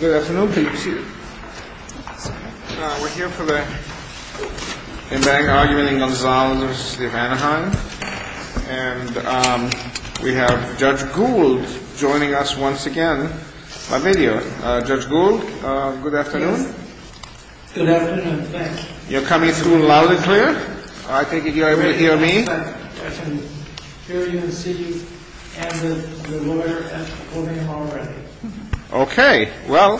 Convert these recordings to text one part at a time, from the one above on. Good afternoon. We're here for the embankment argument in Gonzalez v. City of Anaheim. And we have Judge Gould joining us once again by video. Judge Gould, good afternoon. Good afternoon. Thanks. You're coming through loudly clear? I think you're able to hear me. I can hear you and see you and the lawyer at the podium already. Okay. Well,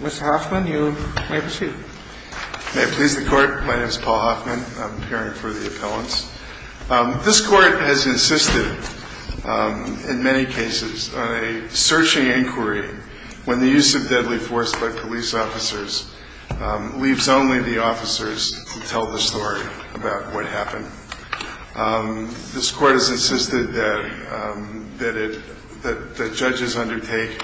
Mr. Hoffman, you may proceed. May it please the Court, my name is Paul Hoffman. I'm appearing for the appellants. This Court has insisted in many cases on a searching inquiry when the use of deadly force by police officers leaves only the officers to tell the story about what happened. This Court has insisted that judges undertake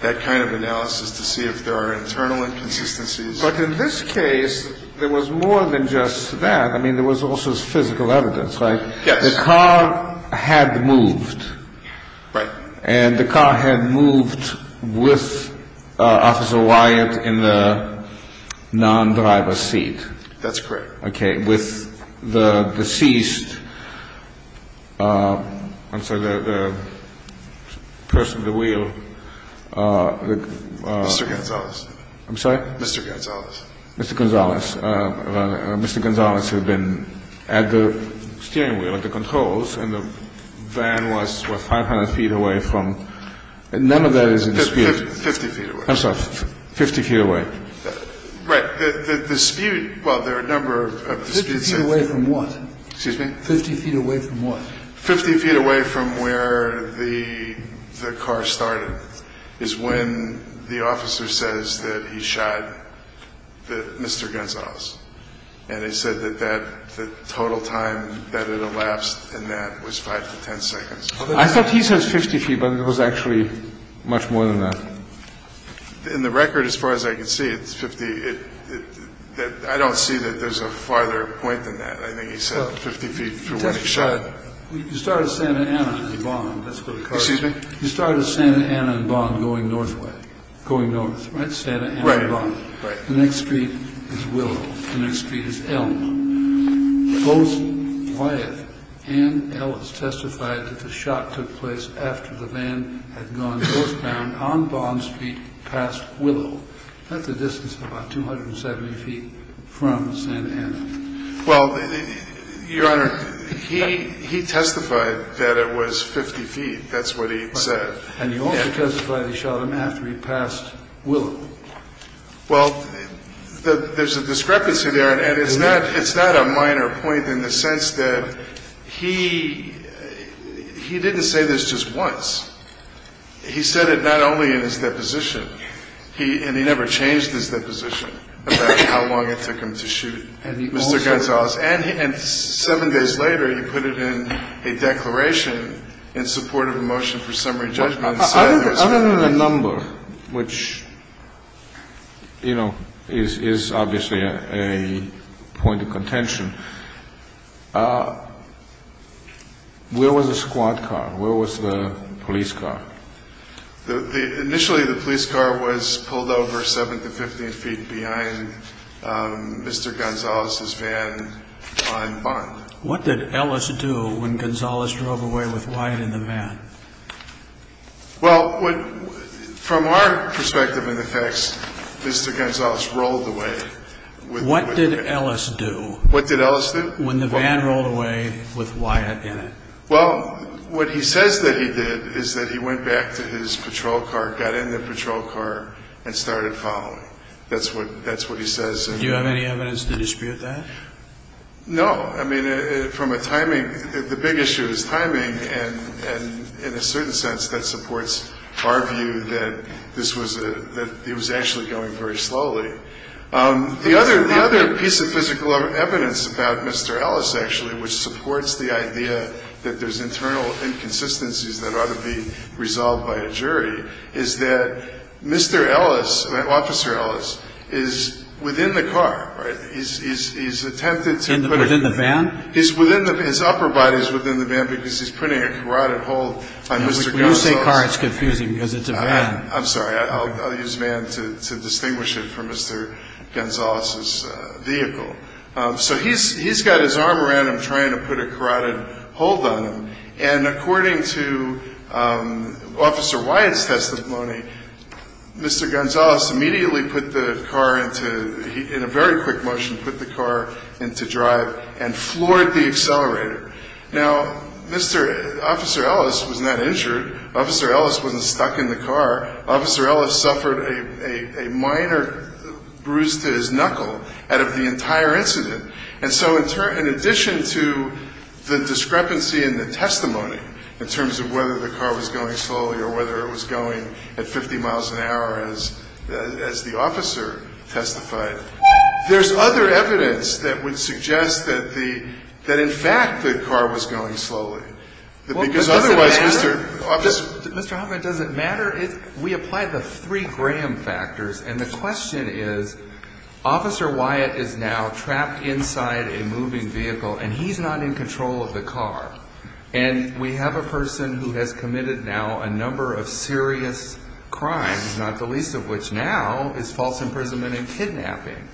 that kind of analysis to see if there are internal inconsistencies. But in this case, there was more than just that. I mean, there was also physical evidence, right? Yes. The car had moved. Right. And the car had moved with Officer Wyatt in the non-driver's seat. That's correct. Okay. With the deceased, I'm sorry, the person with the wheel. Mr. Gonzales. I'm sorry? Mr. Gonzales. Mr. Gonzales. Mr. Gonzales had been at the steering wheel at the controls and the van was, what, 500 feet away from? None of that is in dispute. 50 feet away. I'm sorry, 50 feet away. Right. The dispute, well, there are a number of disputes. 50 feet away from what? Excuse me? 50 feet away from what? 50 feet away from where the car started is when the officer says that he shot Mr. Gonzales. And he said that the total time that it elapsed in that was 5 to 10 seconds. I thought he said 50 feet, but it was actually much more than that. In the record, as far as I can see, it's 50. I don't see that there's a farther point than that. I think he said 50 feet from when he shot him. You started at Santa Ana and Bond. That's where the car is. Excuse me? You started at Santa Ana and Bond going north, right? Santa Ana and Bond. Right. The next street is Willow. The next street is Elm. Both Wyeth and Ellis testified that the shot took place after the van had gone northbound on Bond's feet past Willow. That's a distance of about 270 feet from Santa Ana. Well, Your Honor, he testified that it was 50 feet. That's what he said. And he also testified he shot him after he passed Willow. Well, there's a discrepancy there, and it's not a minor point in the sense that he didn't say this just once. He said it not only in his deposition, and he never changed his deposition about how long it took him to shoot Mr. Gonzales. And seven days later, he put it in a declaration in support of a motion for summary judgment. Other than the number, which, you know, is obviously a point of contention, where was the squad car? Where was the police car? Initially, the police car was pulled over 7 to 15 feet behind Mr. Gonzales' van on Bond. And the police car was pulled over 7 to 15 feet behind Mr. Gonzales' van on Bond. And the police car was pulled over 7 to 15 feet behind Mr. Gonzales' van on Bond. What did Ellis do when Gonzales drove away with Wyeth in the van? Well, from our perspective and the facts, Mr. Gonzales rolled away. What did Ellis do? What did Ellis do? From a timing, the big issue is timing. And in a certain sense, that supports our view that this was a, that it was actually going very slowly. The other piece of physical evidence about Mr. Ellis, actually, which supports the idea that there's internal inconsistencies that ought to be resolved by a jury, is that Mr. Ellis, Officer Ellis, is within the car, right? Within the van? His upper body is within the van because he's putting a carotid hold on Mr. Gonzales. When you say car, it's confusing because it's a van. I'm sorry. I'll use van to distinguish it from Mr. Gonzales' vehicle. So he's got his arm around him trying to put a carotid hold on him. And according to Officer Wyeth's testimony, Mr. Gonzales immediately put the car into, in a very quick motion, put the car into drive and floored the accelerator. Now, Mr. Officer Ellis was not injured. Officer Ellis wasn't stuck in the car. Officer Ellis suffered a minor bruise to his knuckle out of the entire incident. And so in addition to the discrepancy in the testimony in terms of whether the car was going slowly or whether it was going at 50 miles an hour as the officer testified, there's other evidence that would suggest that the, that in fact the car was going slowly. Because otherwise, Mr. Officer. Well, does it matter? Mr. Hoffman, does it matter? We apply the three Graham factors. And the question is, Officer Wyeth is now trapped inside a moving vehicle and he's not in control of the car. And we have a person who has committed now a number of serious crimes, not the least of which now is false imprisonment and kidnapping.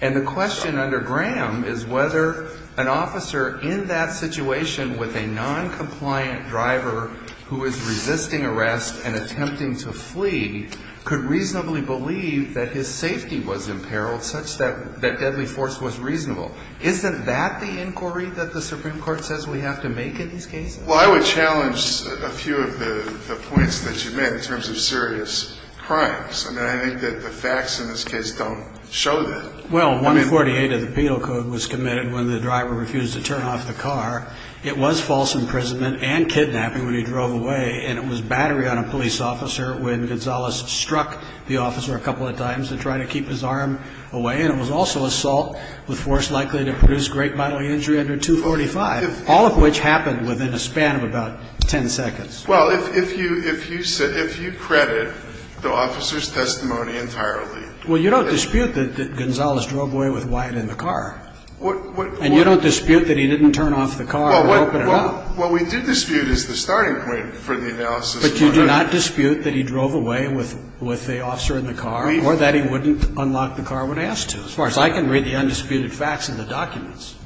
And the question under Graham is whether an officer in that situation with a noncompliant driver who is resisting arrest and attempting to flee could reasonably believe that his safety was imperiled such that that deadly force was reasonable. Isn't that the inquiry that the Supreme Court says we have to make in these cases? Well, I would challenge a few of the points that you made in terms of serious crimes. I mean, I think that the facts in this case don't show that. Well, 148 of the penal code was committed when the driver refused to turn off the car. It was false imprisonment and kidnapping when he drove away. And it was battery on a police officer when Gonzalez struck the officer a couple of times to try to keep his arm away. And it was also assault with force likely to produce great bodily injury under 245, all of which happened within a span of about 10 seconds. Well, if you credit the officer's testimony entirely. Well, you don't dispute that Gonzalez drove away with Wyeth in the car. And you don't dispute that he didn't turn off the car or open it up. Well, what we do dispute is the starting point for the analysis. But you do not dispute that he drove away with the officer in the car or that he wouldn't unlock the car when asked to. As far as I can read the undisputed facts in the documents.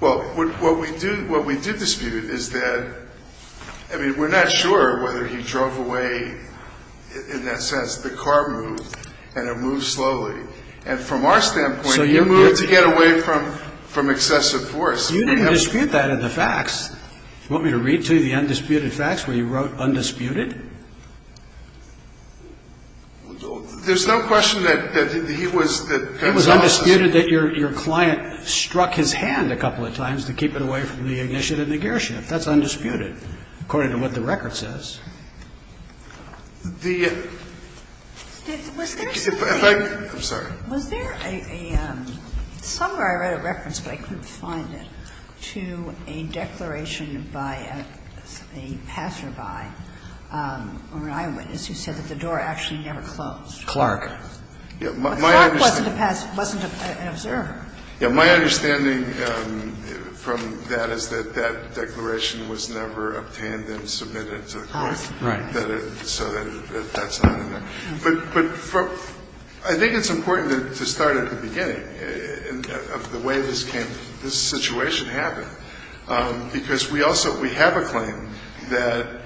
Well, what we do dispute is that, I mean, we're not sure whether he drove away in that sense. The car moved and it moved slowly. And from our standpoint, it moved to get away from excessive force. You didn't dispute that in the facts. You want me to read to you the undisputed facts where you wrote undisputed? There's no question that he was. It was undisputed that your client struck his hand a couple of times to keep it away from the ignition and the gear shift. That's undisputed according to what the record says. The question is, was there something? I'm sorry. Was there a – somewhere I read a reference, but I couldn't find it, to a declaration by a passerby or an eyewitness who said that the door actually never closed? Clark. Clark wasn't an observer. Yes. My understanding from that is that that declaration was never obtained and submitted to the court. Right. So that's not in there. But I think it's important to start at the beginning of the way this came – this situation happened. Because we also – we have a claim that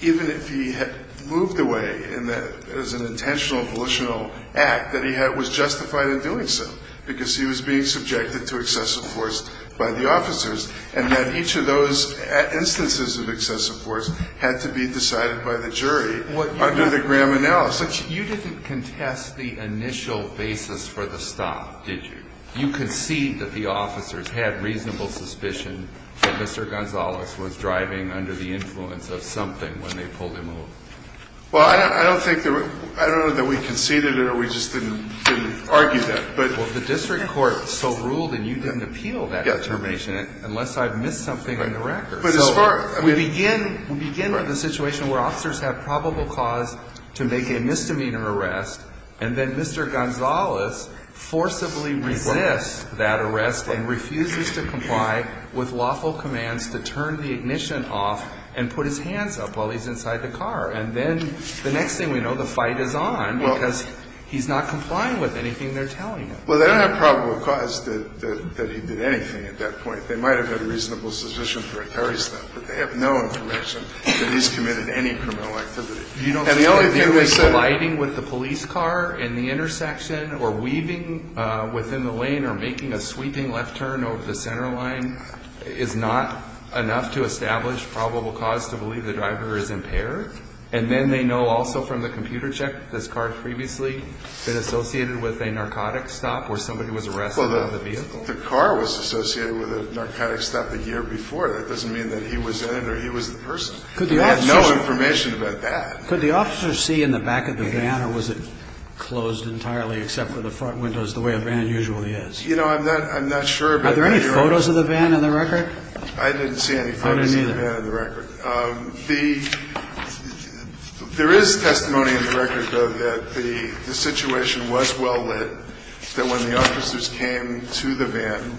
even if he had moved away in the – as an intentional, volitional act, that he was justified in doing so because he was being subjected to excessive force by the officers and that each of those instances of excessive force had to be decided by the jury under the Graham analysis. You didn't contest the initial basis for the stop, did you? You conceded that the officers had reasonable suspicion that Mr. Gonzales was driving under the influence of something when they pulled him away. Well, I don't think – I don't know that we conceded it or we just didn't argue that, but – Well, the district court so ruled and you didn't appeal that determination unless I've missed something on the record. But as far – So we begin with a situation where officers have probable cause to make a misdemeanor arrest, and then Mr. Gonzales forcibly resists that arrest and refuses to comply with lawful commands to turn the ignition off and put his hands up while he's inside the car. And then the next thing we know, the fight is on because he's not complying with anything they're telling him. Well, they don't have probable cause that he did anything at that point. They might have had a reasonable suspicion for a carry stunt, but they have no information that he's committed any criminal activity. And the only thing they said – Well, the car was associated with a narcotic stop the year before. That doesn't mean that he was in it or he was the person. They have no information about that. Could the officers see in the back of the van or was it closed entirely except for the front windows the way a van usually is? I don't know. I don't know. I don't know. I don't know. I don't know. No, I'm not sure. Are there any photos of the van in the record? I didn't see any photos of the van in the record. I didn't either. There is testimony in the record, though, that the situation was well lit, that when the officers came to the van,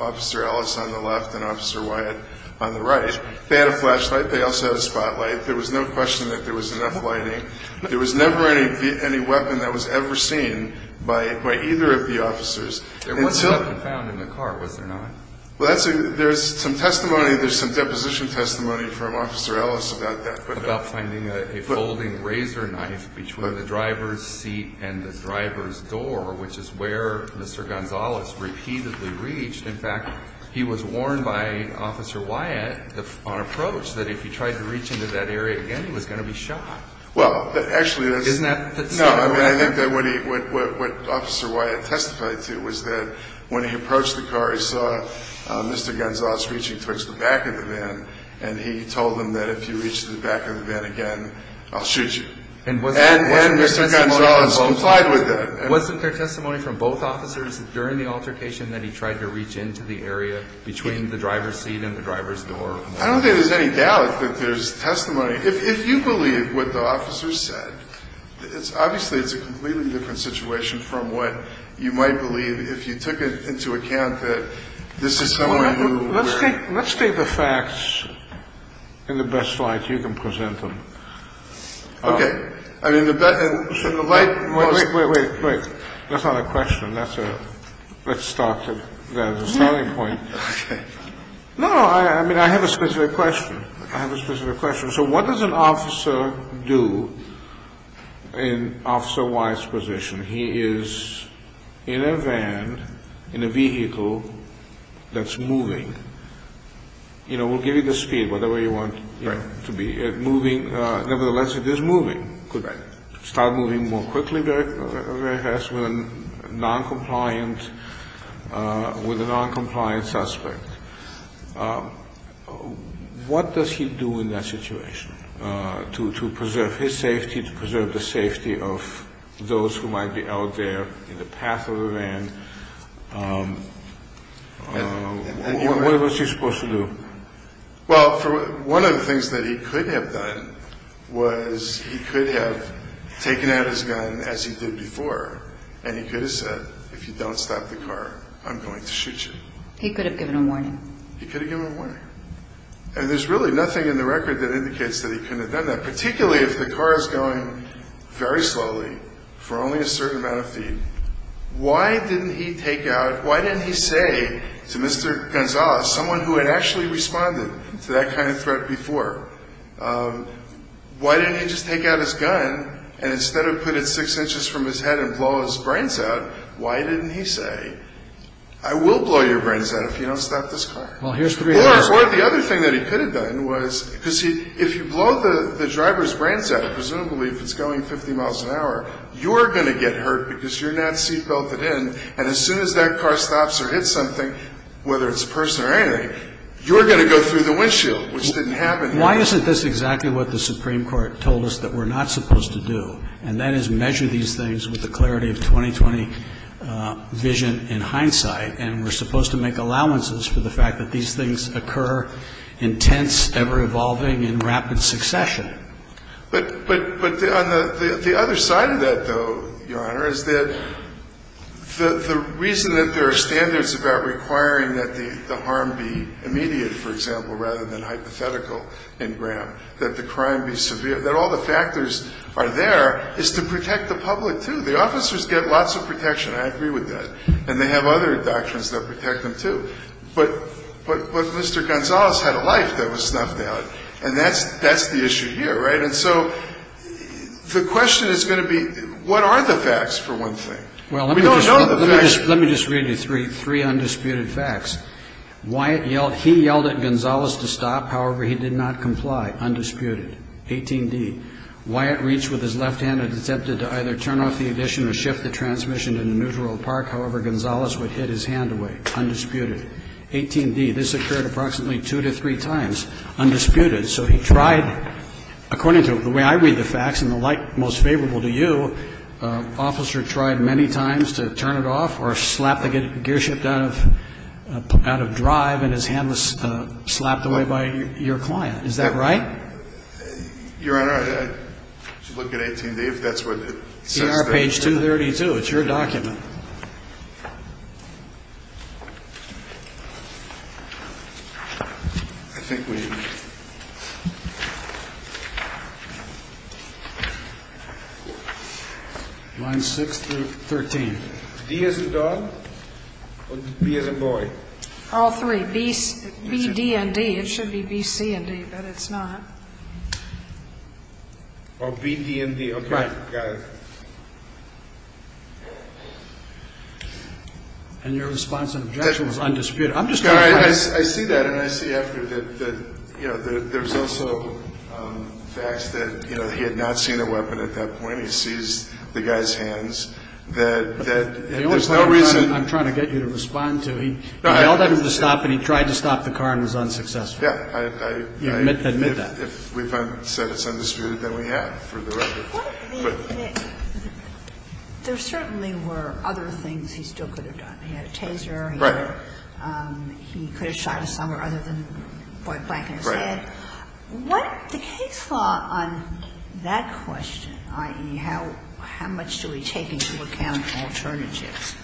Officer Ellis on the left and Officer Wyatt on the right, they had a flashlight. They also had a spotlight. There was no question that there was enough lighting. There was never any weapon that was ever seen by either of the officers There wasn't a weapon found in the car, was there not? Well, there's some testimony. There's some deposition testimony from Officer Ellis about that. About finding a folding razor knife between the driver's seat and the driver's door, which is where Mr. Gonzalez repeatedly reached. In fact, he was warned by Officer Wyatt on approach that if he tried to reach into that area again, he was going to be shot. Well, actually, that's Isn't that so? What Officer Wyatt testified to was that when he approached the car, he saw Mr. Gonzalez reaching towards the back of the van, and he told him that if he reached the back of the van again, I'll shoot you. And Mr. Gonzalez complied with that. Wasn't there testimony from both officers during the altercation that he tried to reach into the area between the driver's seat and the driver's door? I don't think there's any doubt that there's testimony. If you believe what the officers said, obviously it's a completely different situation from what you might believe if you took into account that this is someone who Let's take the facts in the best light you can present them. Okay. I mean, the light Wait, wait, wait. That's not a question. That's a, let's start at the starting point. Okay. No, I mean, I have a specific question. I have a specific question. So what does an officer do in Officer Wise's position? He is in a van, in a vehicle that's moving. You know, we'll give you the speed, whatever you want it to be. It's moving. Nevertheless, it is moving. It could start moving more quickly, very fast, with a noncompliant suspect. What does he do in that situation to preserve his safety, to preserve the safety of those who might be out there in the path of the van? What was he supposed to do? Well, one of the things that he could have done was he could have taken out his gun as he did before, and he could have said, if you don't stop the car, I'm going to shoot you. He could have given a warning. He could have given a warning. And there's really nothing in the record that indicates that he couldn't have done that, particularly if the car is going very slowly for only a certain amount of feet. Why didn't he take out, why didn't he say to Mr. Gonzales, someone who had actually responded to that kind of threat before, why didn't he just take out his gun and instead of put it six inches from his head and blow his brains out, why didn't he say, I will blow your brains out if you don't stop this car? Or the other thing that he could have done was, because if you blow the driver's brains out, presumably if it's going 50 miles an hour, you're going to get hurt because you're not seat belted in, and as soon as that car stops or hits something, whether it's a person or anything, you're going to go through the windshield, which didn't happen. Why isn't this exactly what the Supreme Court told us that we're not supposed to do, and that is measure these things with the clarity of 2020 vision and hindsight, and we're supposed to make allowances for the fact that these things occur in tense, ever-evolving and rapid succession. But on the other side of that, though, Your Honor, is that the reason that there are standards about requiring that the harm be immediate, for example, rather than hypothetical in Graham, that the crime be severe, that all the factors are there, is to protect the public, too. The officers get lots of protection. I agree with that. And they have other doctrines that protect them, too. But Mr. Gonzalez had a life that was snuffed out, and that's the issue here, right? And so the question is going to be, what are the facts, for one thing? We don't know the facts. Let me just read you three undisputed facts. He yelled at Gonzalez to stop. However, he did not comply. Undisputed. 18D. Wyatt reached with his left hand and attempted to either turn off the ignition or shift the transmission to the neutral park. However, Gonzalez would hit his hand away. Undisputed. 18D. This occurred approximately two to three times. Undisputed. So he tried, according to the way I read the facts and the like most favorable to you, the officer tried many times to turn it off or slap the gearshift out of drive and his hand was slapped away by your client. Is that right? Your Honor, I should look at 18D if that's what it says there. See our page 232. It's your document. Line 6 through 13. D as in dog or B as in boy? All three. B, D, and D. It should be B, C, and D, but it's not. Or B, D, and D. And your response and objection was undisputed. I see that and I see after that there's also facts that he had not seen a weapon at that point. He seized the guy's hands. The only time I'm trying to get you to respond to, he yelled at him to stop and he tried to stop the car and was unsuccessful. Admit that. If we've said it's undisputed, then we have for the record. There certainly were other things he still could have done. He had a taser. Right. He could have shot somewhere other than right back in his head. Right. What the case law on that question, i.e., how much do we take into account alternatives,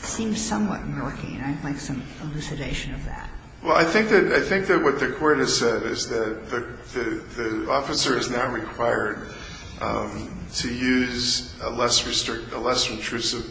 seems somewhat murky and I'd like some elucidation of that. Well, I think that what the court has said is that the officer is now required to use a less intrusive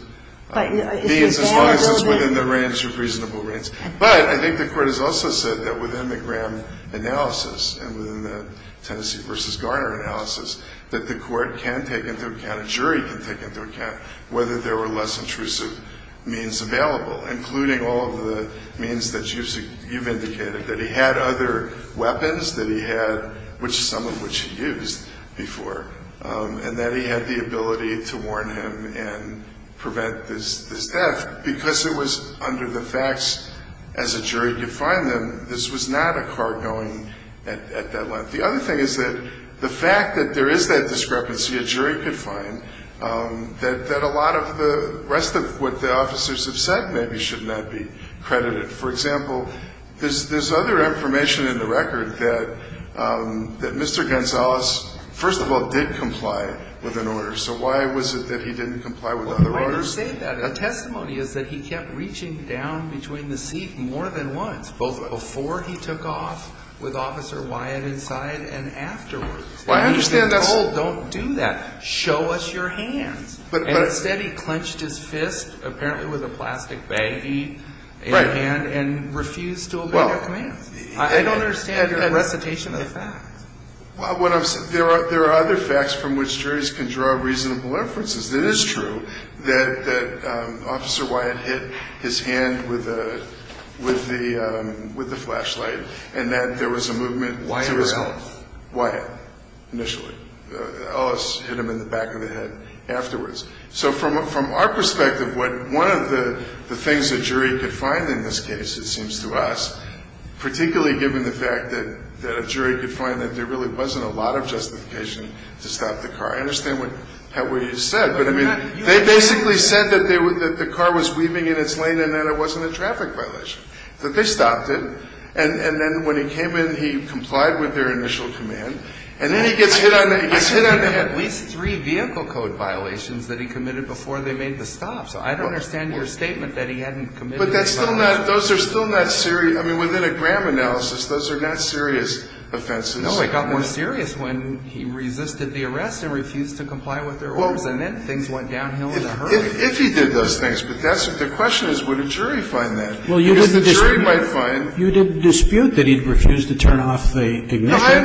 means as long as it's within the range of reasonable range. But I think the court has also said that within the Graham analysis and within the Tennessee v. Garner analysis, that the court can take into account, a jury can take into account, whether there were less intrusive means available, including all of the means that you've indicated, that he had other weapons that he had, some of which he used before, and that he had the ability to warn him and prevent this death, because it was under the facts as a jury could find them. This was not a car going at that length. The other thing is that the fact that there is that discrepancy a jury could find, that a lot of the rest of what the officers have said maybe should not be credited. For example, there's other information in the record that Mr. Gonzalez, first of all, did comply with an order. So why was it that he didn't comply with other orders? Well, the way you say that in a testimony is that he kept reaching down between the seat more than once, both before he took off with Officer Wyatt inside and afterwards. I understand that. No, don't do that. Show us your hands. And instead he clenched his fist, apparently with a plastic baggie in hand, and refused to obey your commands. I don't understand your recitation of the facts. Well, there are other facts from which juries can draw reasonable references. It is true that Officer Wyatt hit his hand with the flashlight, and that there was a movement to his home. Wyatt or else? Wyatt, initially. Ellis hit him in the back of the head afterwards. So from our perspective, one of the things a jury could find in this case, it seems to us, particularly given the fact that a jury could find that there really wasn't a lot of justification to stop the car. I understand what you said, but, I mean, they basically said that the car was weaving in its lane and that it wasn't a traffic violation, that they stopped it. And then when he came in, he complied with their initial command. And then he gets hit on the head. He had at least three vehicle code violations that he committed before they made the stop. So I don't understand your statement that he hadn't committed any violations. But that's still not, those are still not serious, I mean, within a Graham analysis, those are not serious offenses. No, it got more serious when he resisted the arrest and refused to comply with their orders, and then things went downhill in a hurry. If he did those things, but that's what the question is, would a jury find that? Well, you would dispute. Because the jury might find. You would dispute that he refused to turn off the ignition. No, I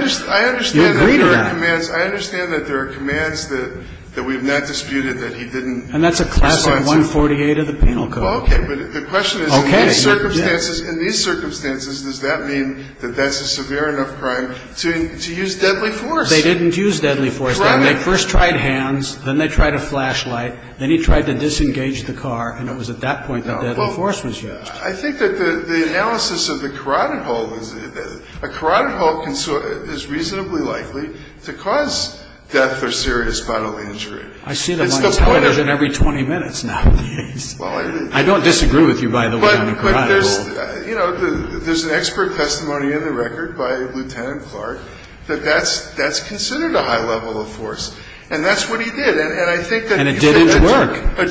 understand. You agree to that. I understand that there are commands that we have not disputed that he didn't respond to. And that's a classic 148 of the penal code. Okay. But the question is, in these circumstances, in these circumstances, does that mean that that's a severe enough crime to use deadly force? They didn't use deadly force. Right. They first tried hands, then they tried a flashlight, then he tried to disengage the car, and it was at that point that deadly force was used. I think that the analysis of the carotid hole is that a carotid hole is reasonably likely to cause death or serious bodily injury. It's the point of the carotid hole. I see that my time isn't every 20 minutes now, please. Well, it is. I don't disagree with you, by the way, on the carotid hole. But there's, you know, there's an expert testimony in the record by Lieutenant Clark that that's considered a high level of force. And that's what he did. And I think that if a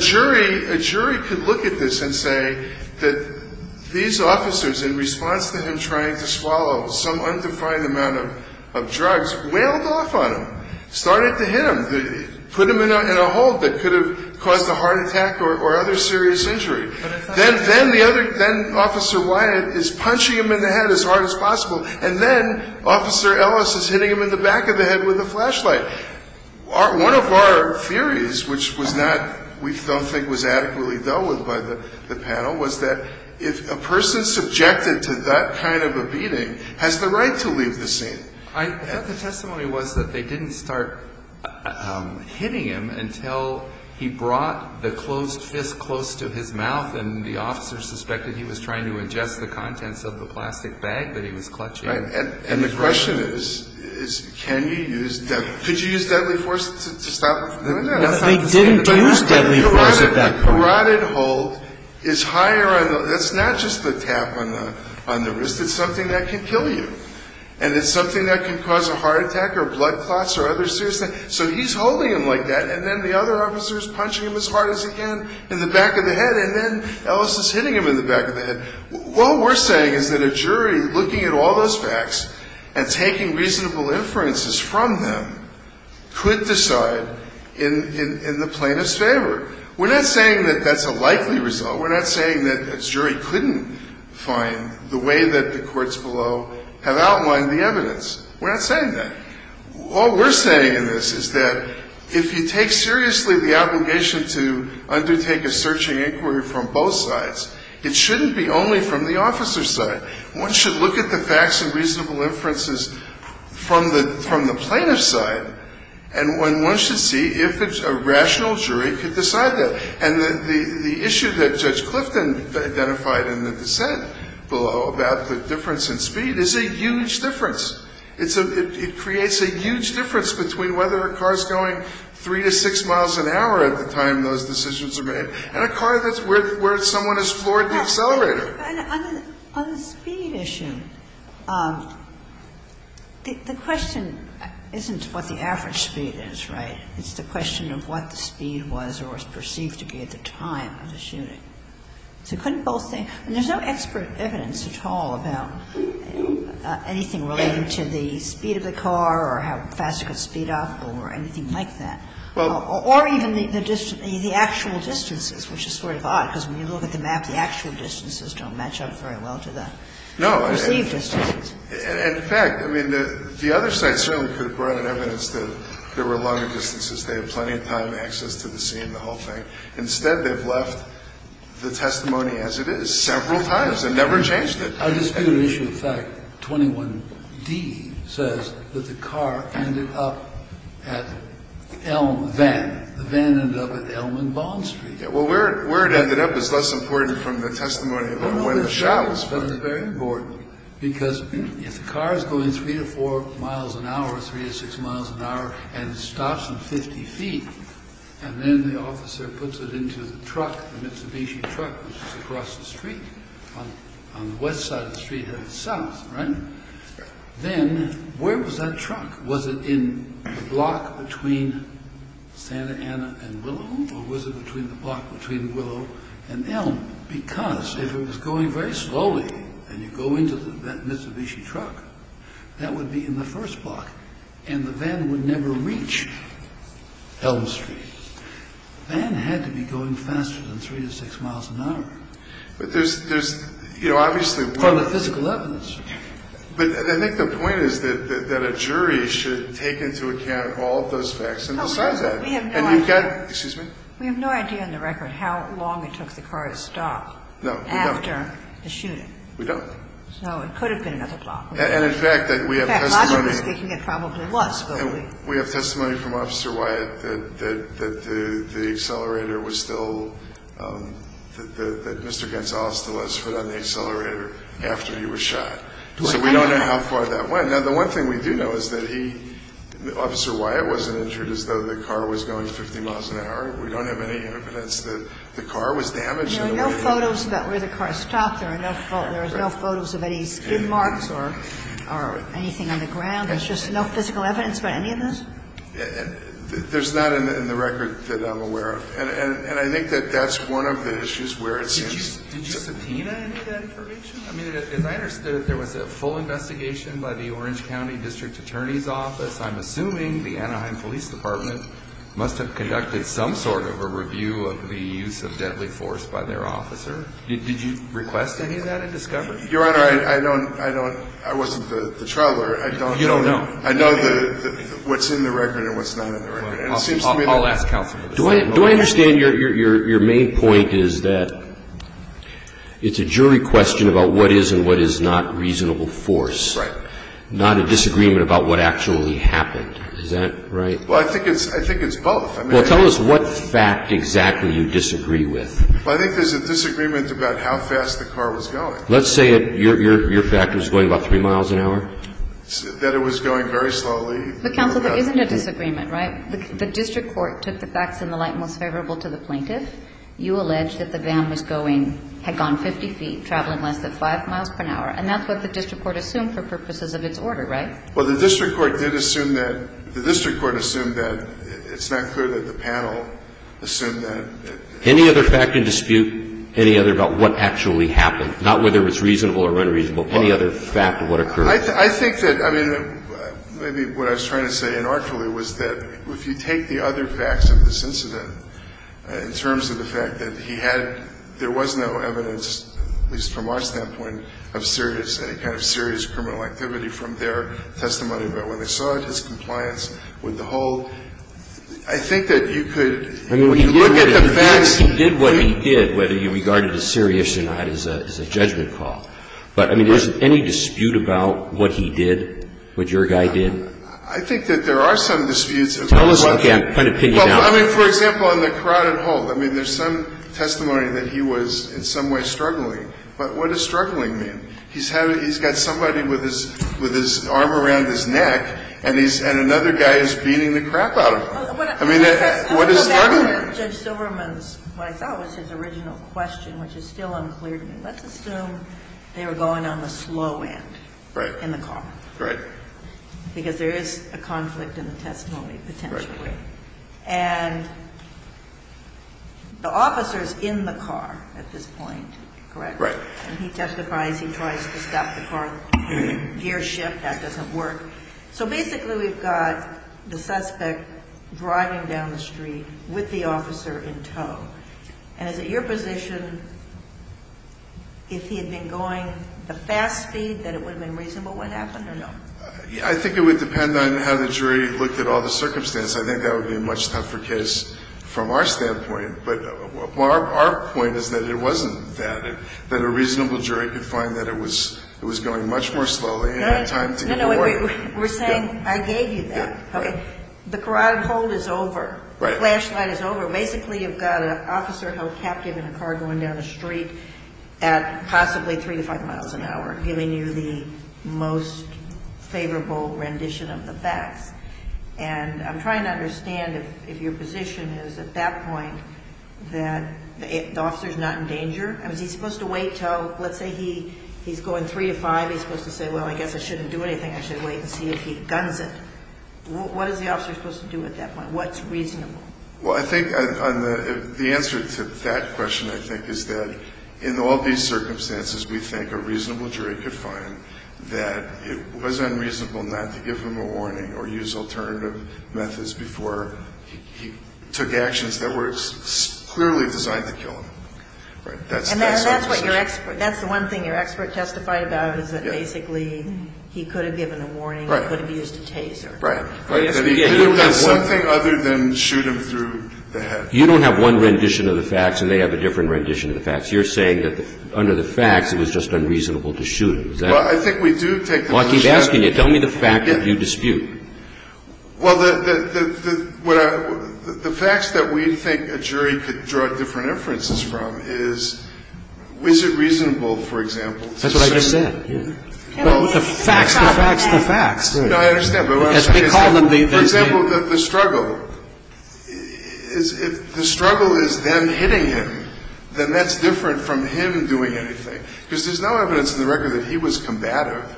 jury could look at this and say that, you know, these officers, in response to him trying to swallow some undefined amount of drugs, whaled off on him, started to hit him, put him in a hole that could have caused a heart attack or other serious injury. Then Officer Wyatt is punching him in the head as hard as possible. And then Officer Ellis is hitting him in the back of the head with a flashlight. One of our theories, which was not we don't think was adequately dealt with by the panel, was that if a person subjected to that kind of a beating has the right to leave the scene. I thought the testimony was that they didn't start hitting him until he brought the closed fist close to his mouth and the officer suspected he was trying to ingest the contents of the plastic bag that he was clutching. Right. And the question is, can you use deadly force? Could you use deadly force to stop him? No. They didn't use deadly force at that point. A rotted hold is higher. That's not just the tap on the wrist. It's something that can kill you. And it's something that can cause a heart attack or blood clots or other serious things. So he's holding him like that. And then the other officer is punching him as hard as he can in the back of the head. And then Ellis is hitting him in the back of the head. What we're saying is that a jury looking at all those facts and taking reasonable inferences from them could decide in the plaintiff's favor. We're not saying that that's a likely result. We're not saying that a jury couldn't find the way that the courts below have outlined the evidence. We're not saying that. All we're saying in this is that if you take seriously the obligation to undertake a searching inquiry from both sides, it shouldn't be only from the officer's side. One should look at the facts and reasonable inferences from the plaintiff's side. And one should see if a rational jury could decide that. And the issue that Judge Clifton identified in the dissent below about the difference in speed is a huge difference. It creates a huge difference between whether a car is going 3 to 6 miles an hour at the time those decisions are made and a car that's where someone has floored the accelerator. Ginsburg. On the speed issue, the question isn't what the average speed is, right? It's the question of what the speed was or was perceived to be at the time of the shooting. So couldn't both things – there's no expert evidence at all about anything related to the speed of the car or how fast it could speed up or anything like that. Or even the actual distances, which is sort of odd because when you look at the map, the actual distances don't match up very well to the perceived distances. No. In fact, I mean, the other side certainly could have brought in evidence that there were longer distances. They have plenty of time, access to the scene, the whole thing. Instead, they've left the testimony as it is several times and never changed it. On the speed issue, in fact, 21d says that the car ended up at Elm Van. The van ended up at Elm and Bond Street. Well, where it ended up is less important from the testimony than where the shot was from. The shot was very important because if the car is going three to four miles an hour, three to six miles an hour, and it stops at 50 feet, and then the officer puts it into the truck, the Mitsubishi truck, which is across the street, on the west side of the Then where was that truck? Was it in the block between Santa Ana and Willow? Or was it between the block between Willow and Elm? Because if it was going very slowly and you go into that Mitsubishi truck, that would be in the first block. And the van would never reach Elm Street. The van had to be going faster than three to six miles an hour. But there's, you know, obviously... From the physical evidence. But I think the point is that a jury should take into account all of those facts and decide that. And you've got... Excuse me? We have no idea on the record how long it took the car to stop. No, we don't. After the shooting. We don't. So it could have been another block. And, in fact, we have testimony... In fact, I'm mistaken. It probably was. We have testimony from Officer Wyatt that the accelerator was still... That Mr. Gonzalez still has foot on the accelerator after he was shot. So we don't know how far that went. Now, the one thing we do know is that he... Officer Wyatt wasn't injured as though the car was going 50 miles an hour. We don't have any evidence that the car was damaged in any way. There are no photos about where the car stopped. There are no photos of any skin marks or anything on the ground. There's just no physical evidence about any of this? There's not in the record that I'm aware of. And I think that that's one of the issues where it seems... Did you subpoena any of that information? I mean, as I understood it, there was a full investigation by the Orange County District Attorney's Office. I'm assuming the Anaheim Police Department must have conducted some sort of a review of the use of deadly force by their officer. Did you request any of that in discovery? Your Honor, I don't... I wasn't the trial lawyer. I don't... You don't know? I know what's in the record and what's not in the record. And it seems to me that... I understand your main point is that it's a jury question about what is and what is not reasonable force. Right. Not a disagreement about what actually happened. Is that right? Well, I think it's both. Well, tell us what fact exactly you disagree with. I think there's a disagreement about how fast the car was going. Let's say your fact was going about 3 miles an hour? That it was going very slowly. But, counsel, there isn't a disagreement, right? The district court took the facts in the light most favorable to the plaintiff. You allege that the van was going, had gone 50 feet, traveling less than 5 miles per hour, and that's what the district court assumed for purposes of its order, right? Well, the district court did assume that. The district court assumed that. It's not clear that the panel assumed that. Any other fact in dispute? Any other about what actually happened? Not whether it's reasonable or unreasonable. Any other fact of what occurred? I think that, I mean, maybe what I was trying to say inartfully was that if you take the other facts of this incident, in terms of the fact that he had, there was no evidence, at least from our standpoint, of serious, any kind of serious criminal activity from their testimony about when they saw it, his compliance with the whole, I think that you could look at the facts. I mean, we did what he did, whether you regarded it as serious or not, as a judgment of the court. But, I mean, is there any dispute about what he did, what your guy did? I think that there are some disputes. Tell us again. Try to pin it down. Well, I mean, for example, on the carotid hole. I mean, there's some testimony that he was in some way struggling. But what does struggling mean? He's got somebody with his arm around his neck, and another guy is beating the crap out of him. I mean, what does struggling mean? Judge Silverman's, what I thought was his original question, which is still unclear to me, let's assume they were going on the slow end. Right. In the car. Right. Because there is a conflict in the testimony, potentially. Right. And the officer is in the car at this point, correct? Right. And he testifies, he tries to stop the car, gear shift, that doesn't work. So basically, we've got the suspect driving down the street with the officer in tow. And is it your position, if he had been going the fast speed, that it would have been reasonable what happened, or no? I think it would depend on how the jury looked at all the circumstances. I think that would be a much tougher case from our standpoint. But our point is that it wasn't that. That a reasonable jury could find that it was going much more slowly and had time to We're saying, I gave you that. Okay. The carotid hold is over. Right. The flashlight is over. Basically, you've got an officer held captive in a car going down the street at possibly three to five miles an hour, giving you the most favorable rendition of the facts. And I'm trying to understand if your position is, at that point, that the officer's not in danger? I mean, is he supposed to wait until, let's say he's going three to five, he's supposed to say, well, I guess I shouldn't do anything. I should wait and see if he guns it. What is the officer supposed to do at that point? What's reasonable? Well, I think the answer to that question, I think, is that in all these circumstances, we think a reasonable jury could find that it was unreasonable not to give him a warning or use alternative methods before he took actions that were clearly designed to kill him. Right? Well, I think the answer to that question is that basically he could have given a warning or could have used a taser. Right. Right. He could have done something other than shoot him through the head. You don't have one rendition of the facts and they have a different rendition of the facts. You're saying that under the facts, it was just unreasonable to shoot him. Is that right? Well, I think we do take the position that... Well, I keep asking you. Tell me the fact that you dispute. Well, the facts that we think a jury could draw different inferences from is, is it reasonable, for example... That's what I just said. The facts, the facts, the facts. No, I understand. For example, the struggle. If the struggle is them hitting him, then that's different from him doing anything. Because there's no evidence in the record that he was combative.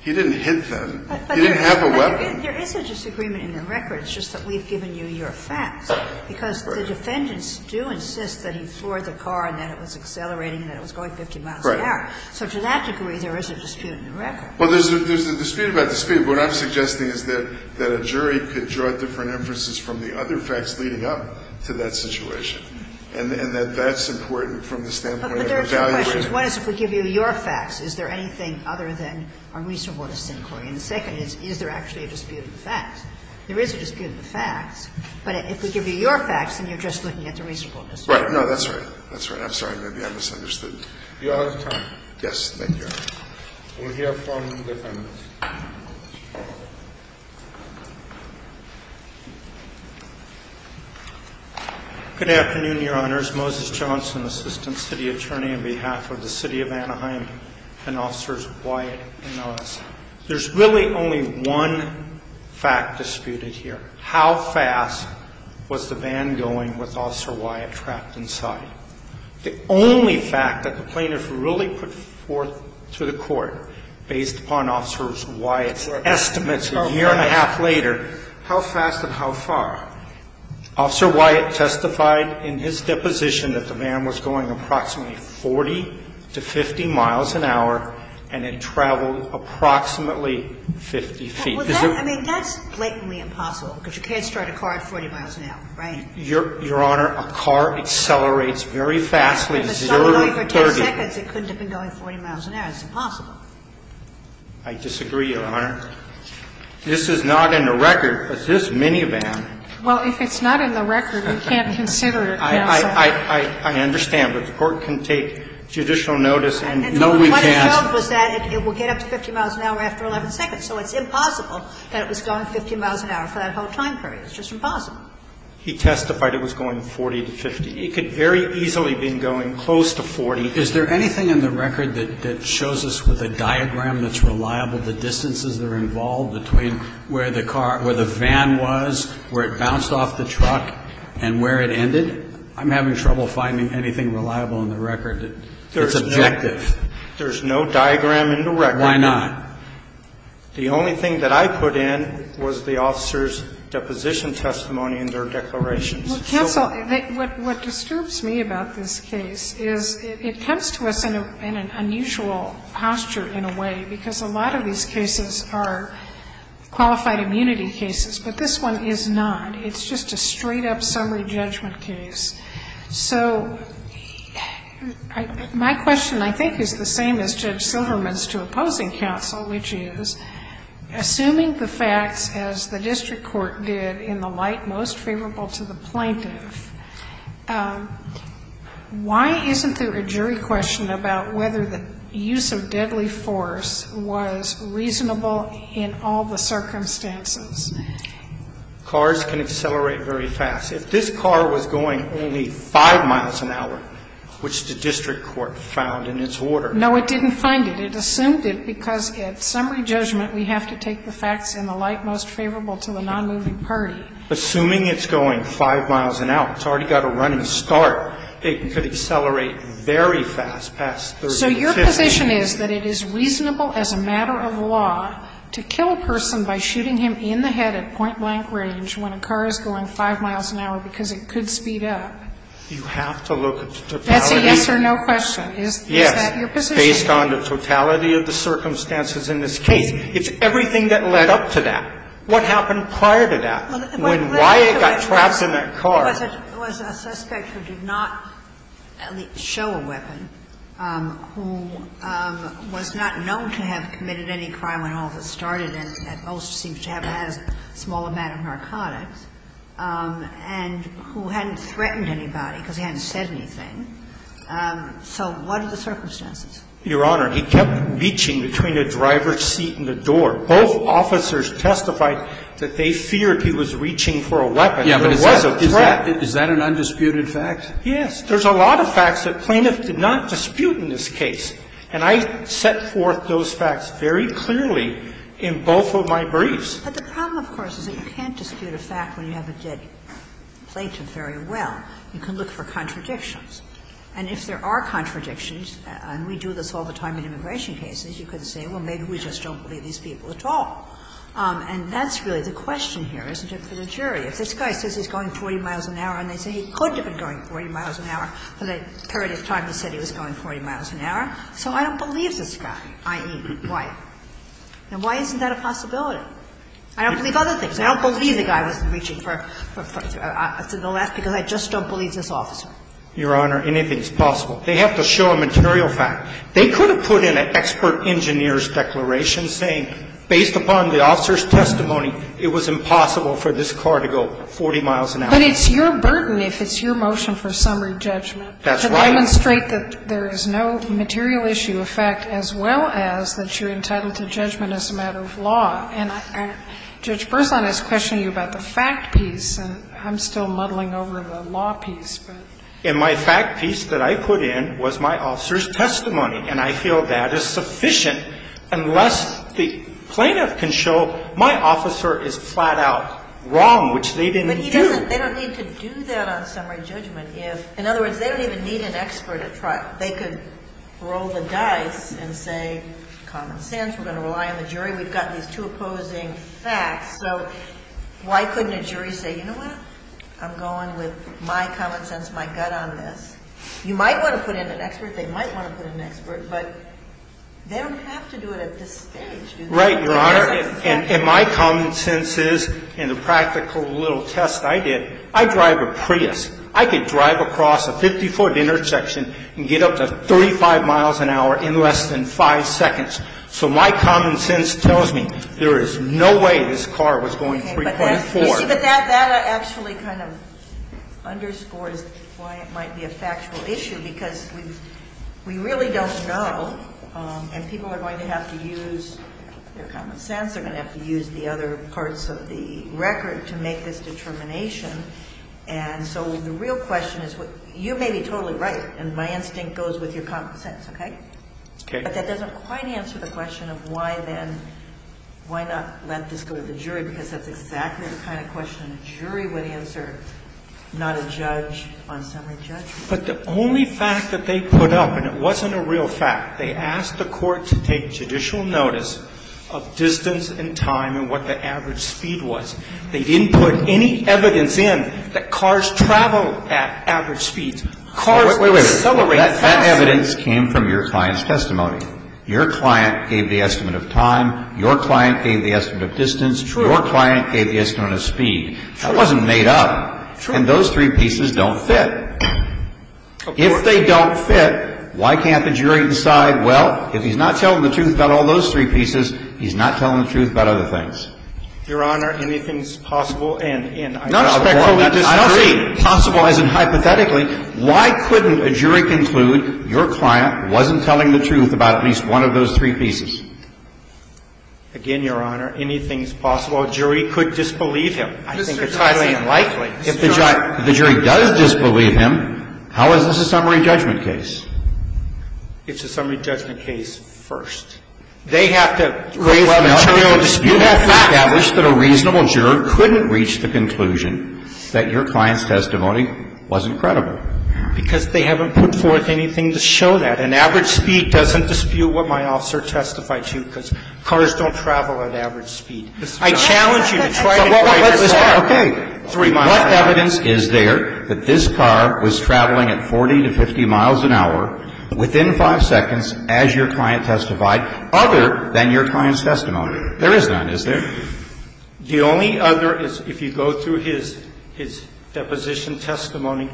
He didn't hit them. He didn't have a weapon. There is a disagreement in the record. It's just that we've given you your facts. Right. Because the defendants do insist that he floored the car and that it was accelerating and that it was going 50 miles an hour. Right. So to that degree, there is a dispute in the record. Well, there's a dispute about dispute. What I'm suggesting is that a jury could draw different inferences from the other facts leading up to that situation. And that that's important from the standpoint of evaluation. But there are two questions. One is if we give you your facts, is there anything other than unreasonable to say, Mr. McCoy? And the second is, is there actually a dispute of the facts? There is a dispute of the facts. But if we give you your facts, then you're just looking at the reasonableness. Right. No, that's right. That's right. I'm sorry. Maybe I misunderstood. You're out of time. Yes. Thank you. We'll hear from the defendants. Good afternoon, Your Honors. Moses Johnson, Assistant City Attorney on behalf of the City of Anaheim and Officers Wyatt and Oz. There's really only one fact disputed here. How fast was the van going with Officer Wyatt trapped inside? The only fact that the plaintiffs really put forth to the Court, based upon Officers Wyatt's estimates a year and a half later, how fast and how far. Officer Wyatt testified in his deposition that the van was going approximately 40 to 50 miles an hour and it traveled approximately 50 feet. I mean, that's blatantly impossible because you can't start a car at 40 miles an hour, right? Your Honor, a car accelerates very fast. If it started going for 10 seconds, it couldn't have been going 40 miles an hour. It's impossible. I disagree, Your Honor. This is not in the record, but this minivan. Well, if it's not in the record, we can't consider it, counsel. I understand, but the Court can take judicial notice and no, we can't. And what it showed was that it will get up to 50 miles an hour after 11 seconds. So it's impossible that it was going 50 miles an hour for that whole time period. It's just impossible. He testified it was going 40 to 50. It could very easily have been going close to 40. Is there anything in the record that shows us with a diagram that's reliable the distances that are involved between where the car or the van was, where it bounced off the truck, and where it ended? I'm having trouble finding anything reliable in the record that's objective. There's no diagram in the record. Why not? The only thing that I put in was the officer's deposition testimony and their declarations. Counsel, what disturbs me about this case is it comes to us in an unusual posture in a way, because a lot of these cases are qualified immunity cases, but this one is not. It's just a straight-up summary judgment case. So my question, I think, is the same as Judge Silverman's to opposing counsel, which is, assuming the facts as the district court did in the light most favorable to the plaintiff, why isn't there a jury question about whether the use of deadly force was reasonable in all the circumstances? Cars can accelerate very fast. If this car was going only 5 miles an hour, which the district court found in its order. No, it didn't find it. It assumed it because at summary judgment we have to take the facts in the light most favorable to the nonmoving party. Assuming it's going 5 miles an hour, it's already got a running start, it could accelerate very fast past 30 to 50. So your position is that it is reasonable as a matter of law to kill a person by shooting him in the head at point-blank range when a car is going 5 miles an hour because it could speed up? You have to look at the totality. That's a yes or no question. Is that your position? Yes, based on the totality of the circumstances in this case. It's everything that led up to that. What happened prior to that? Why it got trapped in that car? It was a suspect who did not at least show a weapon, who was not known to have committed any crime when all of it started and at most seems to have had a small amount of narcotics, and who hadn't threatened anybody because he hadn't said anything. So what are the circumstances? Your Honor, he kept reaching between the driver's seat and the door. Both officers testified that they feared he was reaching for a weapon. There was a threat. Is that an undisputed fact? Yes. There's a lot of facts that plaintiffs did not dispute in this case. And I set forth those facts very clearly in both of my briefs. But the problem, of course, is that you can't dispute a fact when you have a dead plaintiff very well. You can look for contradictions. And if there are contradictions, and we do this all the time in immigration cases, you can say, well, maybe we just don't believe these people at all. And that's really the question here, isn't it, for the jury. If this guy says he's going 40 miles an hour and they say he could have been going 40 miles an hour for the period of time he said he was going 40 miles an hour, so I don't believe this guy, i.e., Wyatt. And why isn't that a possibility? I don't believe other things. I don't believe the guy was reaching for the last because I just don't believe this officer. Your Honor, anything is possible. They have to show a material fact. They could have put in an expert engineer's declaration saying, based upon the officer's testimony, it was impossible for this car to go 40 miles an hour. But it's your burden if it's your motion for summary judgment. That's right. To demonstrate that there is no material issue of fact, as well as that you're entitled to judgment as a matter of law. And Judge Berzon is questioning you about the fact piece, and I'm still muddling over the law piece, but. And my fact piece that I put in was my officer's testimony, and I feel that is sufficient unless the plaintiff can show my officer is flat-out wrong, which they didn't do. But they don't need to do that on summary judgment. In other words, they don't even need an expert at trial. They could roll the dice and say, common sense, we're going to rely on the jury. We've got these two opposing facts. So why couldn't a jury say, you know what? I'm going with my common sense, my gut on this. You might want to put in an expert. They might want to put in an expert. Right, Your Honor. And my common sense is, in the practical little test I did, I drive a Prius. I could drive across a 50-foot intersection and get up to 35 miles an hour in less than 5 seconds. So my common sense tells me there is no way this car was going 3.4. But that actually kind of underscores why it might be a factual issue, because we really don't know. And people are going to have to use their common sense. They're going to have to use the other parts of the record to make this determination. And so the real question is, you may be totally right, and my instinct goes with your common sense, okay? Okay. But that doesn't quite answer the question of why then, why not let this go to the jury, because that's exactly the kind of question a jury would answer, not a judge on summary judgment. But the only fact that they put up, and it wasn't a real fact, they asked the court to take judicial notice of distance and time and what the average speed was. They didn't put any evidence in that cars travel at average speeds. Cars accelerate faster. Wait, wait, wait. That evidence came from your client's testimony. Your client gave the estimate of time. Your client gave the estimate of distance. True. Your client gave the estimate of speed. True. That wasn't made up. True. So, again, those three pieces don't fit. If they don't fit, why can't the jury decide, well, if he's not telling the truth about all those three pieces, he's not telling the truth about other things. Your Honor, anything's possible, and I doubt the court would disagree. Not respectfully disagree. I don't see possible as in hypothetically. Why couldn't a jury conclude your client wasn't telling the truth about at least one of those three pieces? Again, Your Honor, anything's possible. A jury could disbelieve him. I think it's highly unlikely. If the jury does disbelieve him, how is this a summary judgment case? It's a summary judgment case first. They have to raise the jurors' dispute. You have to establish that a reasonable juror couldn't reach the conclusion that your client's testimony wasn't credible. Because they haven't put forth anything to show that. An average speed doesn't dispute what my officer testified to, because cars don't travel at average speed. I challenge you to try to incorporate this fact. Okay. What evidence is there that this car was traveling at 40 to 50 miles an hour within five seconds as your client testified, other than your client's testimony? There is none, is there? The only other is if you go through his deposition testimony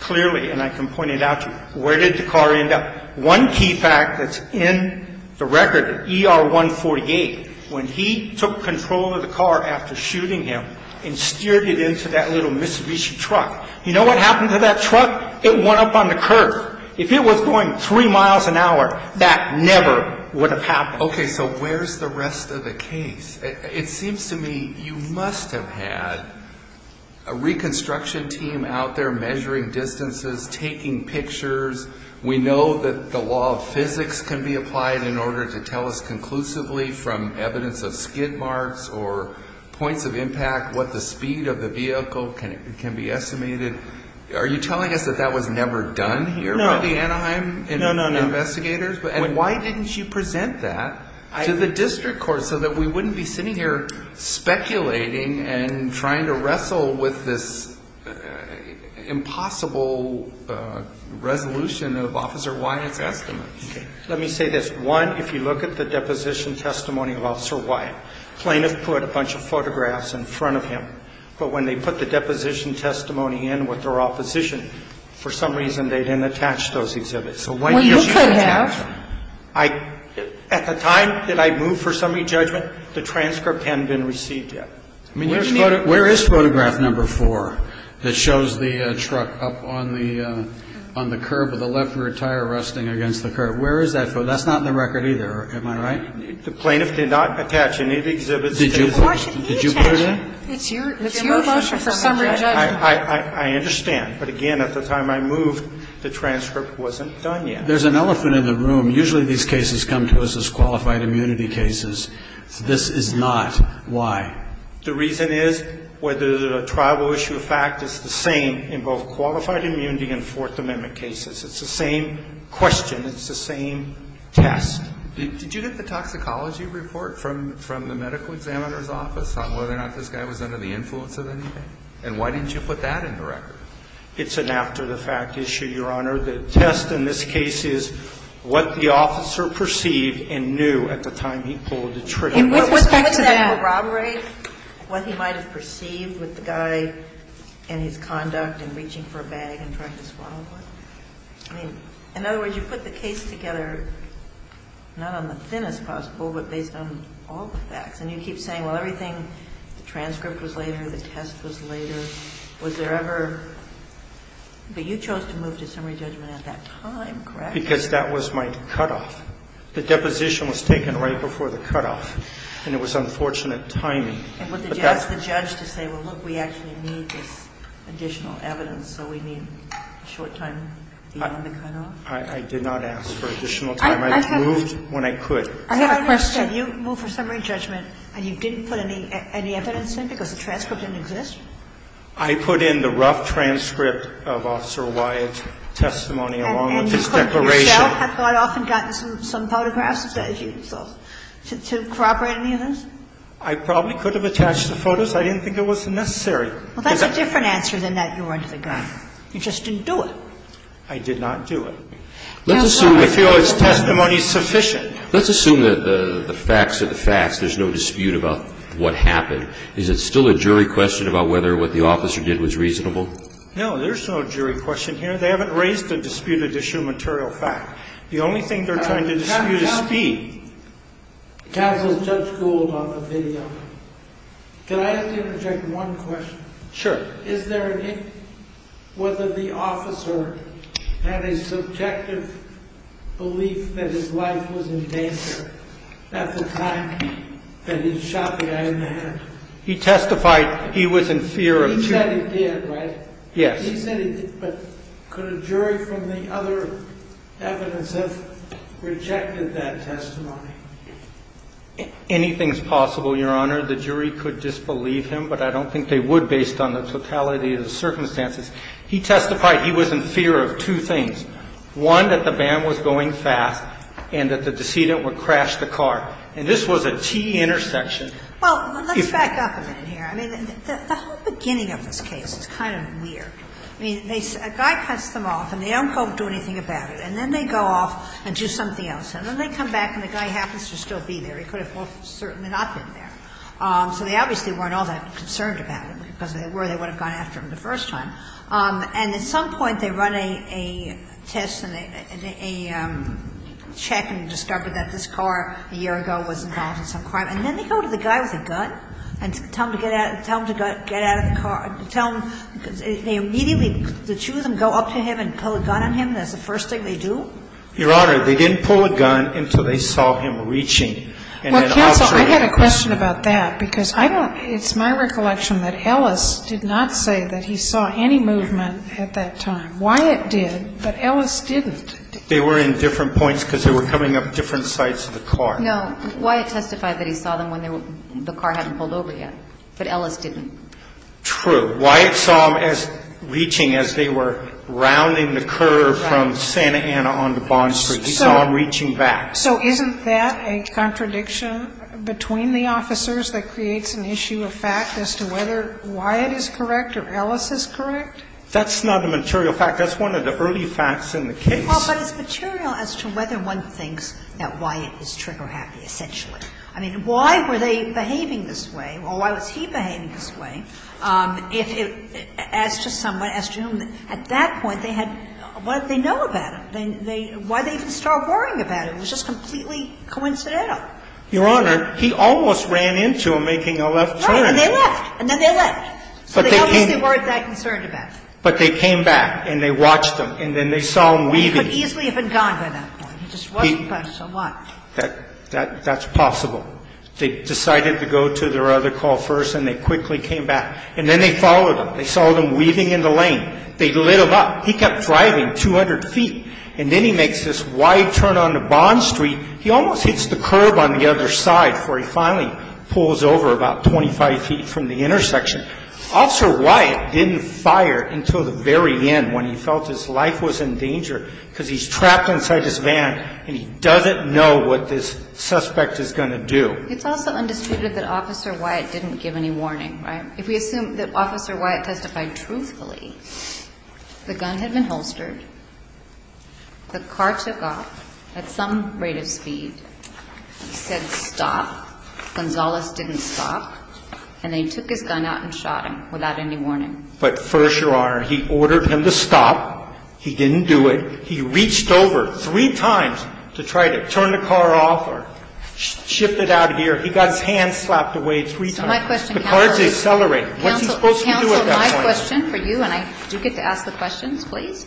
clearly, and I can point it out to you. Where did the car end up? One key fact that's in the record, ER 148, when he took control of the car after shooting him and steered it into that little Mitsubishi truck. You know what happened to that truck? It went up on the curve. If it was going three miles an hour, that never would have happened. Okay. So where's the rest of the case? It seems to me you must have had a reconstruction team out there measuring distances, taking pictures. We know that the law of physics can be applied in order to tell us conclusively from evidence of skid marks or points of impact what the speed of the vehicle can be estimated. Are you telling us that that was never done here by the Anaheim investigators? No, no, no. And why didn't you present that to the district court so that we wouldn't be sitting here speculating and trying to wrestle with this impossible resolution of Officer Wyatt's estimates? Let me say this. One, if you look at the deposition testimony of Officer Wyatt, plaintiff put a bunch of photographs in front of him. But when they put the deposition testimony in with their opposition, for some reason they didn't attach those exhibits. Well, you could have. At the time that I moved for summary judgment, the transcript hadn't been received yet. I mean, where is photograph number four that shows the truck up on the curve with the left rear tire resting against the curve? Where is that? That's not in the record either. Am I right? The plaintiff did not attach any of the exhibits. Did you put it in? It's your motion for summary judgment. I understand. But, again, at the time I moved, the transcript wasn't done yet. There's an elephant in the room. Usually these cases come to us as qualified immunity cases. This is not. Why? The reason is whether the trial will issue a fact is the same in both qualified immunity and Fourth Amendment cases. It's the same question. And it's the same test. Did you get the toxicology report from the medical examiner's office on whether or not this guy was under the influence of anything? And why didn't you put that in the record? It's an after-the-fact issue, Your Honor. The test in this case is what the officer perceived and knew at the time he pulled the trigger. With respect to that. What's that corroborate, what he might have perceived with the guy and his conduct in reaching for a bag and trying to swallow it? I mean, in other words, you put the case together not on the thinnest possible, but based on all the facts. And you keep saying, well, everything, the transcript was later, the test was later. Was there ever? But you chose to move to summary judgment at that time, correct? Because that was my cutoff. The deposition was taken right before the cutoff. And it was unfortunate timing. But that's the judge to say, well, look, we actually need this additional evidence, so we need a short time beyond the cutoff. I did not ask for additional time. I moved when I could. I have a question. You moved for summary judgment and you didn't put any evidence in because the transcript didn't exist? I put in the rough transcript of Officer Wyatt's testimony along with his declaration. And you could yourself have got off and gotten some photographs to corroborate any of this? I probably could have attached the photos. I didn't think it was necessary. Well, that's a different answer than that you were under the gun. You just didn't do it. I did not do it. Let's assume we feel his testimony is sufficient. Let's assume that the facts are the facts. There's no dispute about what happened. Is it still a jury question about whether what the officer did was reasonable? No, there's no jury question here. They haven't raised a disputed issue of material fact. The only thing they're trying to dispute is speed. Counsel, Judge Gould on the video. Can I interject one question? Sure. Is there any, whether the officer had a subjective belief that his life was in danger at the time that he shot the guy in the head? He testified he was in fear of... He said he did, right? Yes. He said he did, but could a jury from the other evidence have rejected that testimony? Anything's possible, Your Honor. The jury could disbelieve him, but I don't think they would based on the totality of the circumstances. He testified he was in fear of two things. One, that the van was going fast and that the decedent would crash the car. And this was a T-intersection. Well, let's back up a minute here. I mean, the whole beginning of this case is kind of weird. I mean, a guy cuts them off, and they don't go do anything about it. And then they go off and do something else. And then they come back and the guy happens to still be there. He could have certainly not been there. So they obviously weren't all that concerned about him, because if they were, they would have gone after him the first time. And at some point, they run a test and a check and discover that this car a year ago was involved in some crime. And then they go to the guy with a gun and tell him to get out of the car. They immediately, the two of them go up to him and pull a gun on him. That's the first thing they do? Your Honor, they didn't pull a gun until they saw him reaching. Well, counsel, I had a question about that, because it's my recollection that Ellis did not say that he saw any movement at that time. Wyatt did, but Ellis didn't. They were in different points because they were coming up different sides of the car. No. Wyatt testified that he saw them when the car hadn't pulled over yet. But Ellis didn't. True. But Wyatt saw them as reaching as they were rounding the curve from Santa Ana onto Bond Street. He saw them reaching back. So isn't that a contradiction between the officers that creates an issue of fact as to whether Wyatt is correct or Ellis is correct? That's not a material fact. That's one of the early facts in the case. Well, but it's material as to whether one thinks that Wyatt is trigger-happy, essentially. I mean, why were they behaving this way? Well, why was he behaving this way? As to someone, as to him, at that point, they had, what did they know about him? Why did they even start worrying about him? It was just completely coincidental. Your Honor, he almost ran into them making a left turn. Right. And they left. And then they left. So they obviously weren't that concerned about him. But they came back and they watched him, and then they saw him weaving. He could easily have been gone by that point. He just wasn't there. So what? That's possible. They decided to go to their other call first, and they quickly came back. And then they followed him. They saw them weaving in the lane. They lit him up. He kept driving 200 feet. And then he makes this wide turn onto Bond Street. He almost hits the curb on the other side before he finally pulls over about 25 feet from the intersection. Officer Wyatt didn't fire until the very end when he felt his life was in danger because he's trapped inside this van and he doesn't know what this suspect is going to do. It's also undisputed that Officer Wyatt didn't give any warning, right? If we assume that Officer Wyatt testified truthfully, the gun had been holstered. The car took off at some rate of speed. He said stop. Gonzalez didn't stop. And they took his gun out and shot him without any warning. But first, Your Honor, he ordered him to stop. He didn't do it. He reached over three times to try to turn the car off or shift it out of gear. He got his hand slapped away three times. The car didn't accelerate. What's he supposed to do at that point? Counsel, my question for you, and I do get to ask the questions, please,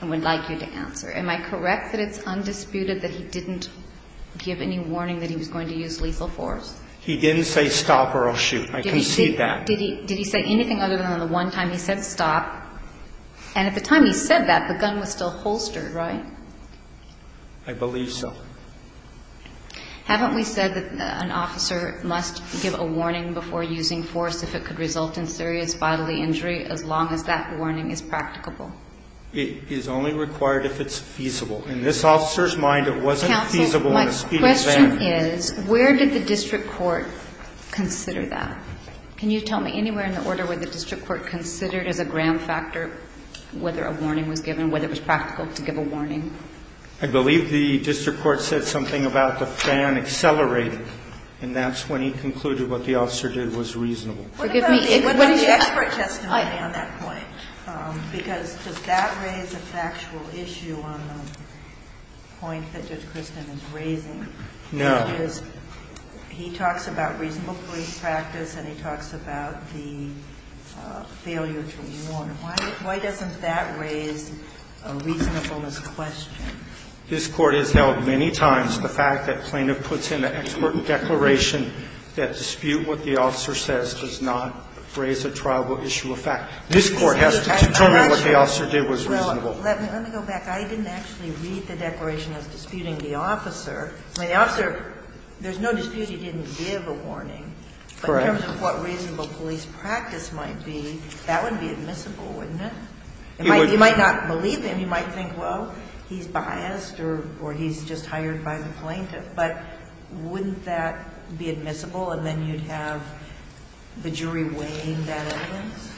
and would like you to answer. Am I correct that it's undisputed that he didn't give any warning that he was going to use lethal force? He didn't say stop or I'll shoot. I concede that. Did he say anything other than the one time he said stop? And at the time he said that, the gun was still holstered, right? I believe so. Haven't we said that an officer must give a warning before using force if it could result in serious bodily injury as long as that warning is practicable? It is only required if it's feasible. In this officer's mind, it wasn't feasible in a speedy manner. Counsel, my question is, where did the district court consider that? Can you tell me anywhere in the order where the district court considered as a ground factor whether a warning was given, whether it was practical to give a warning? I believe the district court said something about the fan accelerating, and that's when he concluded what the officer did was reasonable. What about the expert testimony on that point? Because does that raise a factual issue on the point that Judge Christin is raising? No. He talks about reasonable police practice, and he talks about the failure to warn. Why doesn't that raise a reasonableness question? This Court has held many times the fact that plaintiff puts in an expert declaration that dispute what the officer says does not raise a trialable issue of fact. This Court has to determine what the officer did was reasonable. Well, let me go back. I didn't actually read the declaration as disputing the officer. I mean, the officer, there's no dispute he didn't give a warning. Correct. But in terms of what reasonable police practice might be, that would be admissible, wouldn't it? You might not believe him. You might think, well, he's biased or he's just hired by the plaintiff. But wouldn't that be admissible, and then you'd have the jury weighing that evidence?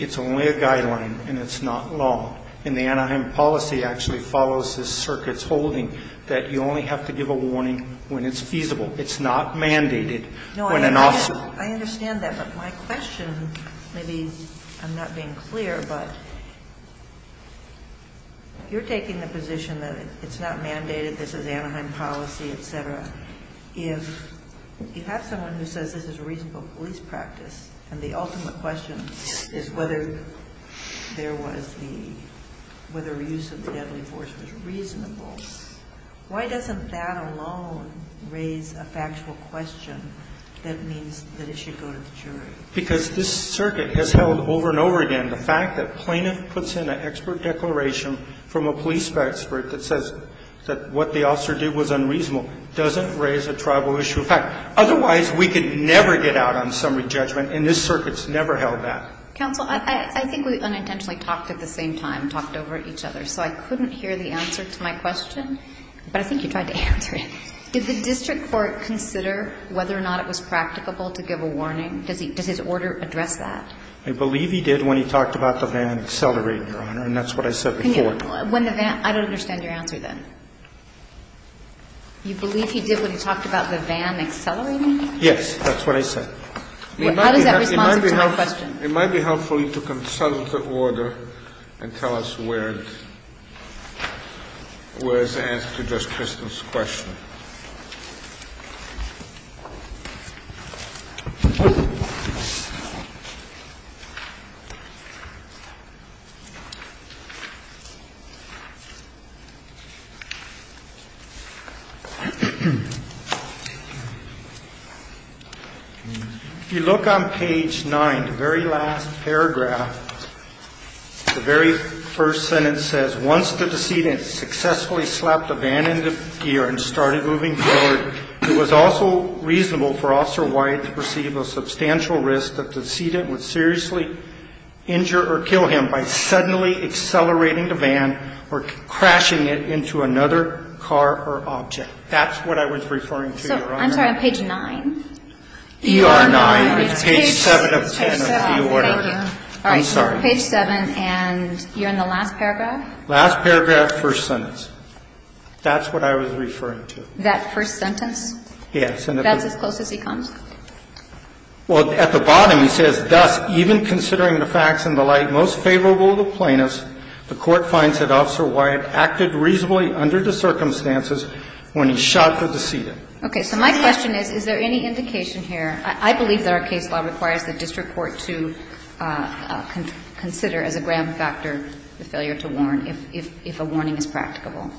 It's only a guideline, and it's not law. And the Anaheim policy actually follows this circuit's holding that you only have to give a warning when it's feasible. It's not mandated when an officer ---- No, I understand that. But my question, maybe I'm not being clear, but you're taking the position that it's not mandated, this is Anaheim policy, et cetera. If you have someone who says this is a reasonable police practice, and the ultimate question is whether there was the ---- whether the use of the deadly force was reasonable, why doesn't that alone raise a factual question that means that it should go to the jury? Because this circuit has held over and over again the fact that plaintiff puts in an expert declaration from a police expert that says that what the officer did was unreasonable doesn't raise a tribal issue of fact. Otherwise, we could never get out on summary judgment, and this circuit's never held that. Counsel, I think we unintentionally talked at the same time, talked over each other. So I couldn't hear the answer to my question, but I think you tried to answer it. Did the district court consider whether or not it was practicable to give a warning? Does his order address that? I believe he did when he talked about the van accelerator, Your Honor, and that's what I said before. When the van ---- I don't understand your answer then. You believe he did when he talked about the van accelerating? Yes, that's what I said. How does that respond to my question? It might be helpful for you to consult the order and tell us where it's asked to address Kristen's question. If you look on page 9, the very last paragraph, the very first sentence says once the decedent successfully slapped the van into gear and started moving forward, it was also reasonable for Officer Wyatt to perceive a substantial risk that the decedent would seriously injure or kill him by suddenly accelerating the van or crashing it into another car or object. That's what I was referring to, Your Honor. I'm sorry. On page 9? ER9. It's page 7 of 10 of the order. Thank you. I'm sorry. Page 7, and you're in the last paragraph? Last paragraph, first sentence. That's what I was referring to. That first sentence? Yes. That's as close as he comes? Well, at the bottom he says, Thus, even considering the facts and the like most favorable to plaintiffs, the Court finds that Officer Wyatt acted reasonably under the circumstances when he shot the decedent. Okay. So my question is, is there any indication here ---- I believe that our case law requires the district court to consider as a grand factor the failure to warn if a warning is practicable.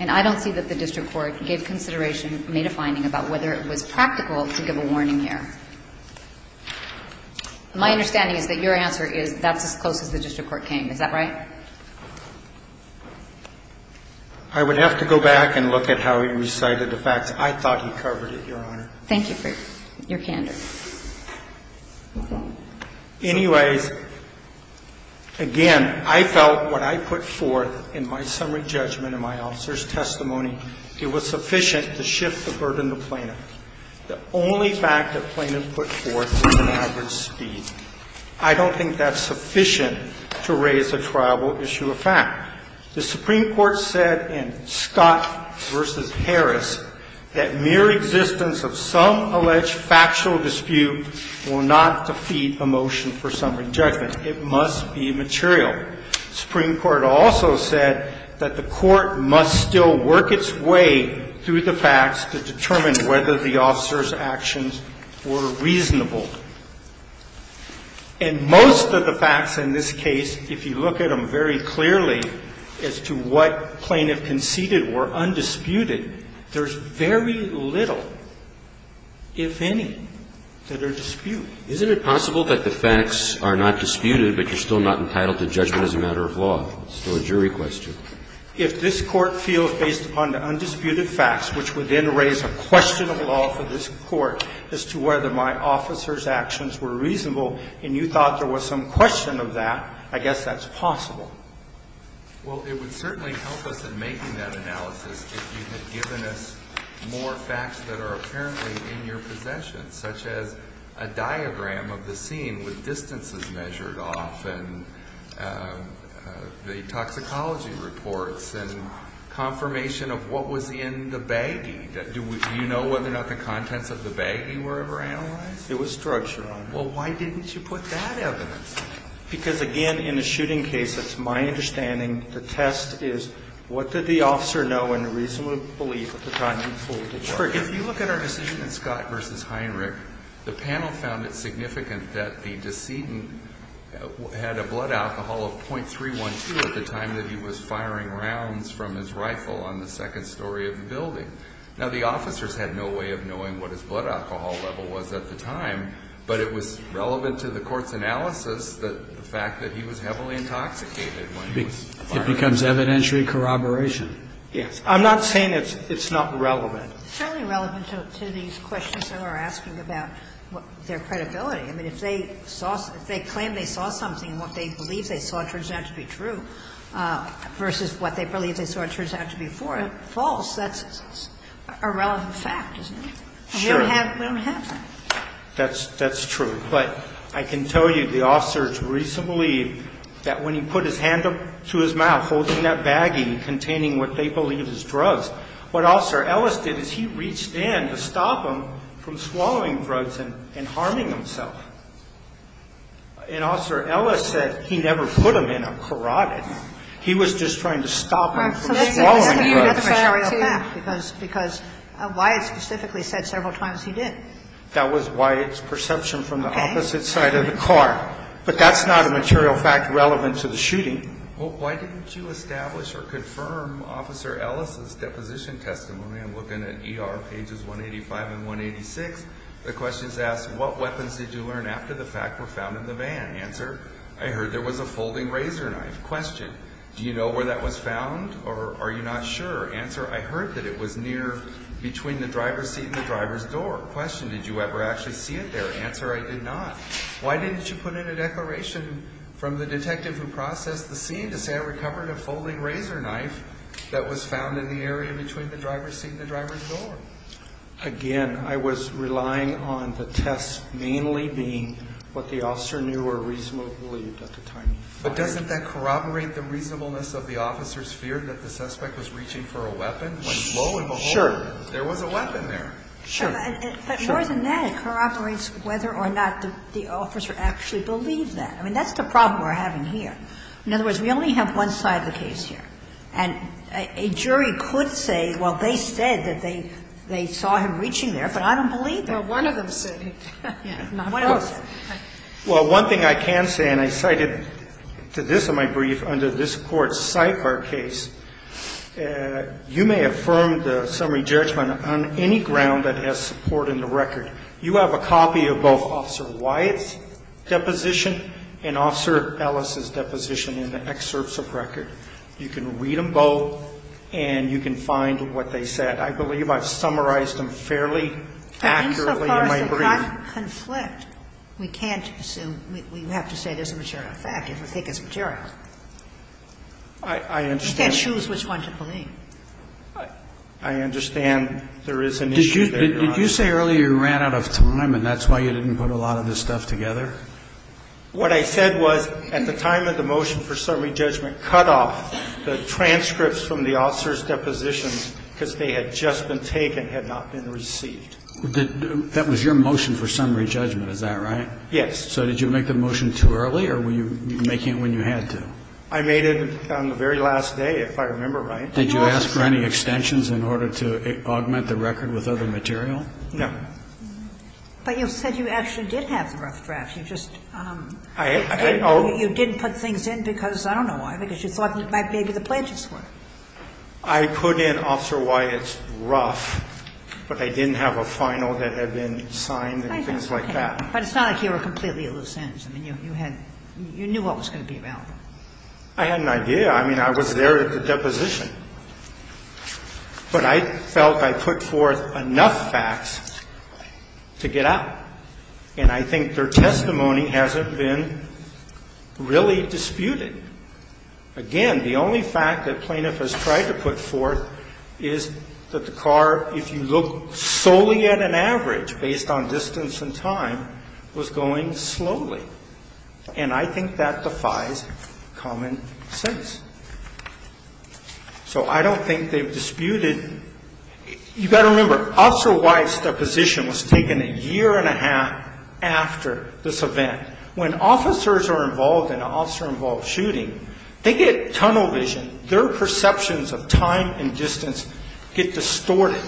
And I don't see that the district court gave consideration, made a finding about whether it was practical to give a warning here. My understanding is that your answer is that's as close as the district court came. Is that right? I would have to go back and look at how he recited the facts. I thought he covered it, Your Honor. Thank you for your candor. Anyways, again, I felt what I put forth in my summary judgment and my officer's testimony, it was sufficient to shift the burden to plaintiff. The only fact that plaintiff put forth was an average speed. I don't think that's sufficient to raise a triable issue of fact. The Supreme Court said in Scott v. Harris that mere existence of some alleged factual dispute will not defeat a motion for summary judgment. It must be material. The Supreme Court also said that the court must still work its way through the facts to determine whether the officer's actions were reasonable. And most of the facts in this case, if you look at them very clearly as to what They are not disputed. And there are many that are disputed. Isn't it possible that the facts are not disputed, but you're still not entitled to judgment as a matter of law? It's still a jury question. If this Court feels based upon the undisputed facts, which would then raise a question of law for this Court as to whether my officer's actions were reasonable, and you thought there was some question of that, I guess that's possible. Well, it would certainly help us in making that analysis if you had given us more facts that are apparently in your possession, such as a diagram of the scene with distances measured off and the toxicology reports and confirmation of what was in the baggie. Do you know whether or not the contents of the baggie were ever analyzed? It was structured on that. Well, why didn't you put that evidence? Because, again, in a shooting case, it's my understanding the test is what did the officer know and reasonably believe at the time he pulled the trigger? If you look at our decision in Scott v. Heinrich, the panel found it significant that the decedent had a blood alcohol of 0.312 at the time that he was firing rounds from his rifle on the second story of the building. Now, the officers had no way of knowing what his blood alcohol level was at the time, but it was relevant to the court's analysis that the fact that he was heavily intoxicated when he was firing. It becomes evidentiary corroboration. Yes. I'm not saying it's not relevant. It's certainly relevant to these questions that we're asking about their credibility. I mean, if they claim they saw something and what they believe they saw turns out to be true versus what they believe they saw turns out to be false, that's a relevant fact, isn't it? Sure. We don't have that. That's true. But I can tell you the officers reasonably that when he put his hand up to his mouth holding that baggie containing what they believe is drugs, what Officer Ellis did is he reached in to stop him from swallowing drugs and harming himself. And Officer Ellis said he never put him in a carotid. He was just trying to stop him from swallowing drugs. That's a real fact because Wyatt specifically said several times he did. That was Wyatt's perception from the opposite side of the car. But that's not a material fact relevant to the shooting. Well, why didn't you establish or confirm Officer Ellis' deposition testimony? I'm looking at ER pages 185 and 186. The question is asked, what weapons did you learn after the fact were found in the van? Answer, I heard there was a folding razor knife. Question, do you know where that was found or are you not sure? Answer, I heard that it was near between the driver's seat and the driver's door. Question, did you ever actually see it there? Answer, I did not. Why didn't you put in a declaration from the detective who processed the scene to say I recovered a folding razor knife that was found in the area between the driver's seat and the driver's door? Again, I was relying on the test mainly being what the officer knew or reasonably believed at the time. But doesn't that corroborate the reasonableness of the officer's fear that the suspect was reaching for a weapon when, lo and behold, there was a weapon there? Sure. Sure. But more than that, it corroborates whether or not the officer actually believed that. I mean, that's the problem we're having here. In other words, we only have one side of the case here. And a jury could say, well, they said that they saw him reaching there, but I don't believe them. Well, one of them said he did. Not both. Well, one thing I can say, and I cited to this in my brief under this Court's judgment, on any ground that has support in the record, you have a copy of both Officer Wyatt's deposition and Officer Ellis's deposition in the excerpts of record. You can read them both, and you can find what they said. I believe I've summarized them fairly accurately in my brief. And insofar as they don't conflict, we can't assume we have to say there's a material fact if we think it's material. I understand. We can't choose which one to believe. I understand there is an issue there. Did you say earlier you ran out of time, and that's why you didn't put a lot of this stuff together? What I said was, at the time of the motion for summary judgment, cut off the transcripts from the officer's depositions because they had just been taken, had not been received. That was your motion for summary judgment, is that right? Yes. So did you make the motion too early, or were you making it when you had to? I made it on the very last day, if I remember right. Did you ask for any extensions in order to augment the record with other material? No. But you said you actually did have the rough draft. You just didn't put things in because, I don't know why, because you thought maybe the pledges were. I put in, Officer, why it's rough, but I didn't have a final that had been signed and things like that. But it's not like you were completely at a loss. I mean, you knew what was going to be available. I had an idea. I mean, I was there at the deposition. But I felt I put forth enough facts to get out. And I think their testimony hasn't been really disputed. Again, the only fact that plaintiff has tried to put forth is that the car, if you look solely at an average based on distance and time, was going slowly. And I think that defies common sense. So I don't think they've disputed. You've got to remember, Officer White's deposition was taken a year and a half after this event. When officers are involved in an officer-involved shooting, they get tunnel vision. Their perceptions of time and distance get distorted.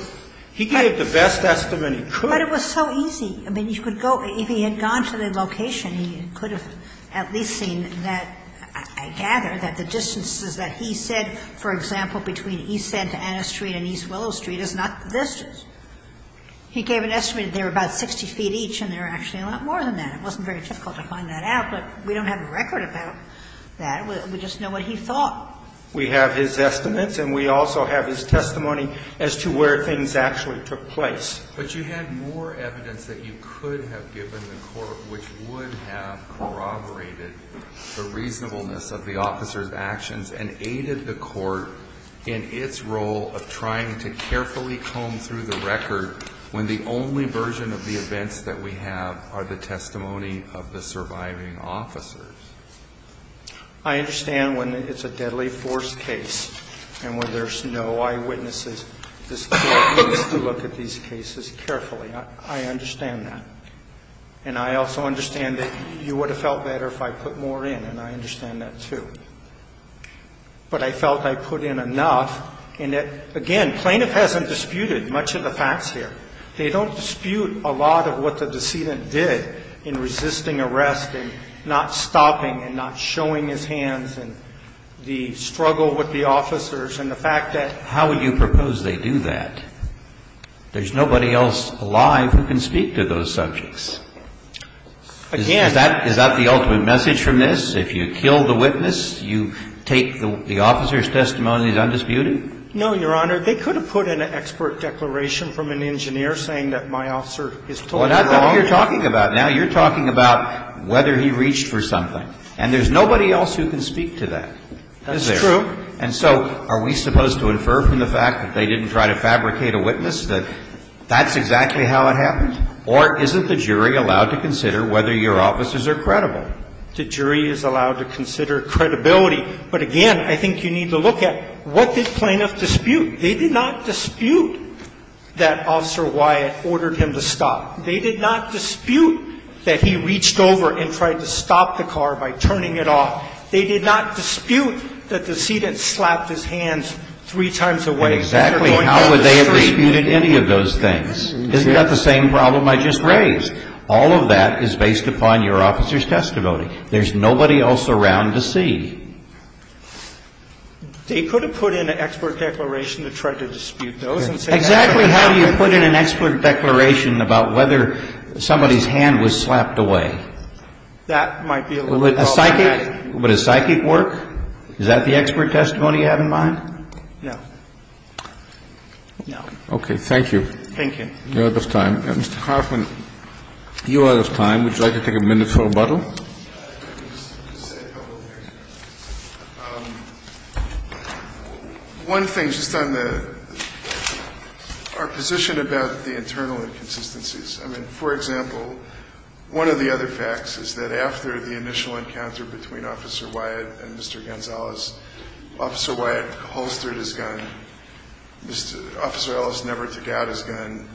He gave the best estimate he could. But it was so easy. I mean, you could go ñ if he had gone to the location, he could have at least seen that, I gather, that the distances that he said, for example, between East Santa Ana Street and East Willow Street is not the distance. He gave an estimate that they were about 60 feet each, and there are actually a lot more than that. It wasn't very difficult to find that out. But we don't have a record about that. We just know what he thought. We have his estimates, and we also have his testimony as to where things actually took place. But you had more evidence that you could have given the court, which would have corroborated the reasonableness of the officer's actions and aided the court in its role of trying to carefully comb through the record when the only version of the events that we have are the testimony of the surviving officers. I understand when it's a deadly force case and when there's no eyewitnesses, this court needs to look at these cases carefully. I understand that. And I also understand that you would have felt better if I put more in, and I understand that, too. But I felt I put in enough, and that, again, plaintiff hasn't disputed much of the facts here. They don't dispute a lot of what the decedent did in resisting arrest and not stopping and not showing his hands and the struggle with the officers and the fact that there's nobody else alive who can speak to those subjects. Is that the ultimate message from this? If you kill the witness, you take the officer's testimony and he's undisputed? No, Your Honor. They could have put in an expert declaration from an engineer saying that my officer is totally wrong. Well, that's not what you're talking about now. You're talking about whether he reached for something. And there's nobody else who can speak to that. That's true. Is there? And so are we supposed to infer from that? Are we supposed to infer from the fact that they didn't try to fabricate a witness that that's exactly how it happened? Or isn't the jury allowed to consider whether your officers are credible? The jury is allowed to consider credibility. But, again, I think you need to look at what did plaintiff dispute. They did not dispute that Officer Wyatt ordered him to stop. They did not dispute that he reached over and tried to stop the car by turning it off. They did not dispute that the decedent slapped his hands three times away. Exactly. How would they have disputed any of those things? Isn't that the same problem I just raised? All of that is based upon your officer's testimony. There's nobody else around to see. They could have put in an expert declaration to try to dispute those. Exactly. How do you put in an expert declaration about whether somebody's hand was slapped away? That might be a little problematic. But does psychic work? Is that the expert testimony you have in mind? No. No. Okay. Thank you. Thank you. You're out of time. Mr. Hoffman, you're out of time. Would you like to take a minute for rebuttal? I can just say a couple of things. One thing, just on our position about the internal inconsistencies. I mean, for example, one of the other facts is that after the initial encounter between Officer Wyatt and Mr. Gonzalez, Officer Wyatt holstered his gun. Officer Ellis never took out his gun.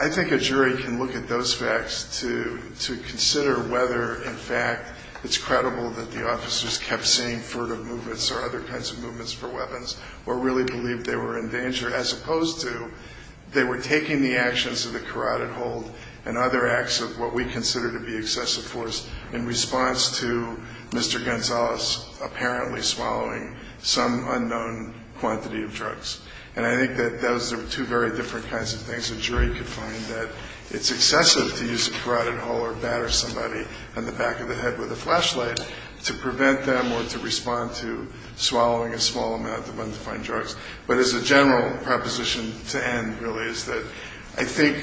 I think a jury can look at those facts to consider whether, in fact, it's credible that the officers kept seeing furtive movements or other kinds of movements for weapons or really believed they were in danger as opposed to they were taking the actions of the carotid hold and other acts of what we consider to be excessive force in response to Mr. Gonzalez apparently swallowing some unknown quantity of drugs. And I think that those are two very different kinds of things. A jury could find that it's excessive to use a carotid hold or batter somebody on the back of the head with a flashlight to prevent them or to respond to swallowing a small amount of undefined drugs. But as a general proposition to end, really, is that I think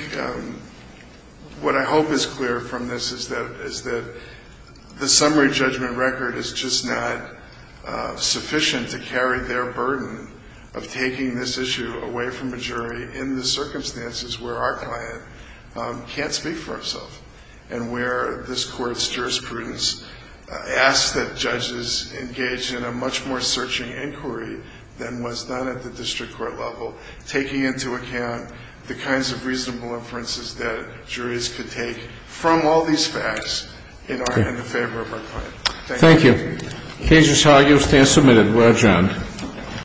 what I hope is clear from this is that the summary judgment record is just not sufficient to carry their burden of taking this issue away from a jury in the circumstances where our client can't speak for himself and where this Court's jurisprudence asks that judges engage in a much more searching inquiry than was done at the district court level, taking into account the kinds of reasonable inferences that juries could take from all these facts in the favor of our client. Thank you. Thank you. Cases, how you'll stand, submitted. We're adjourned.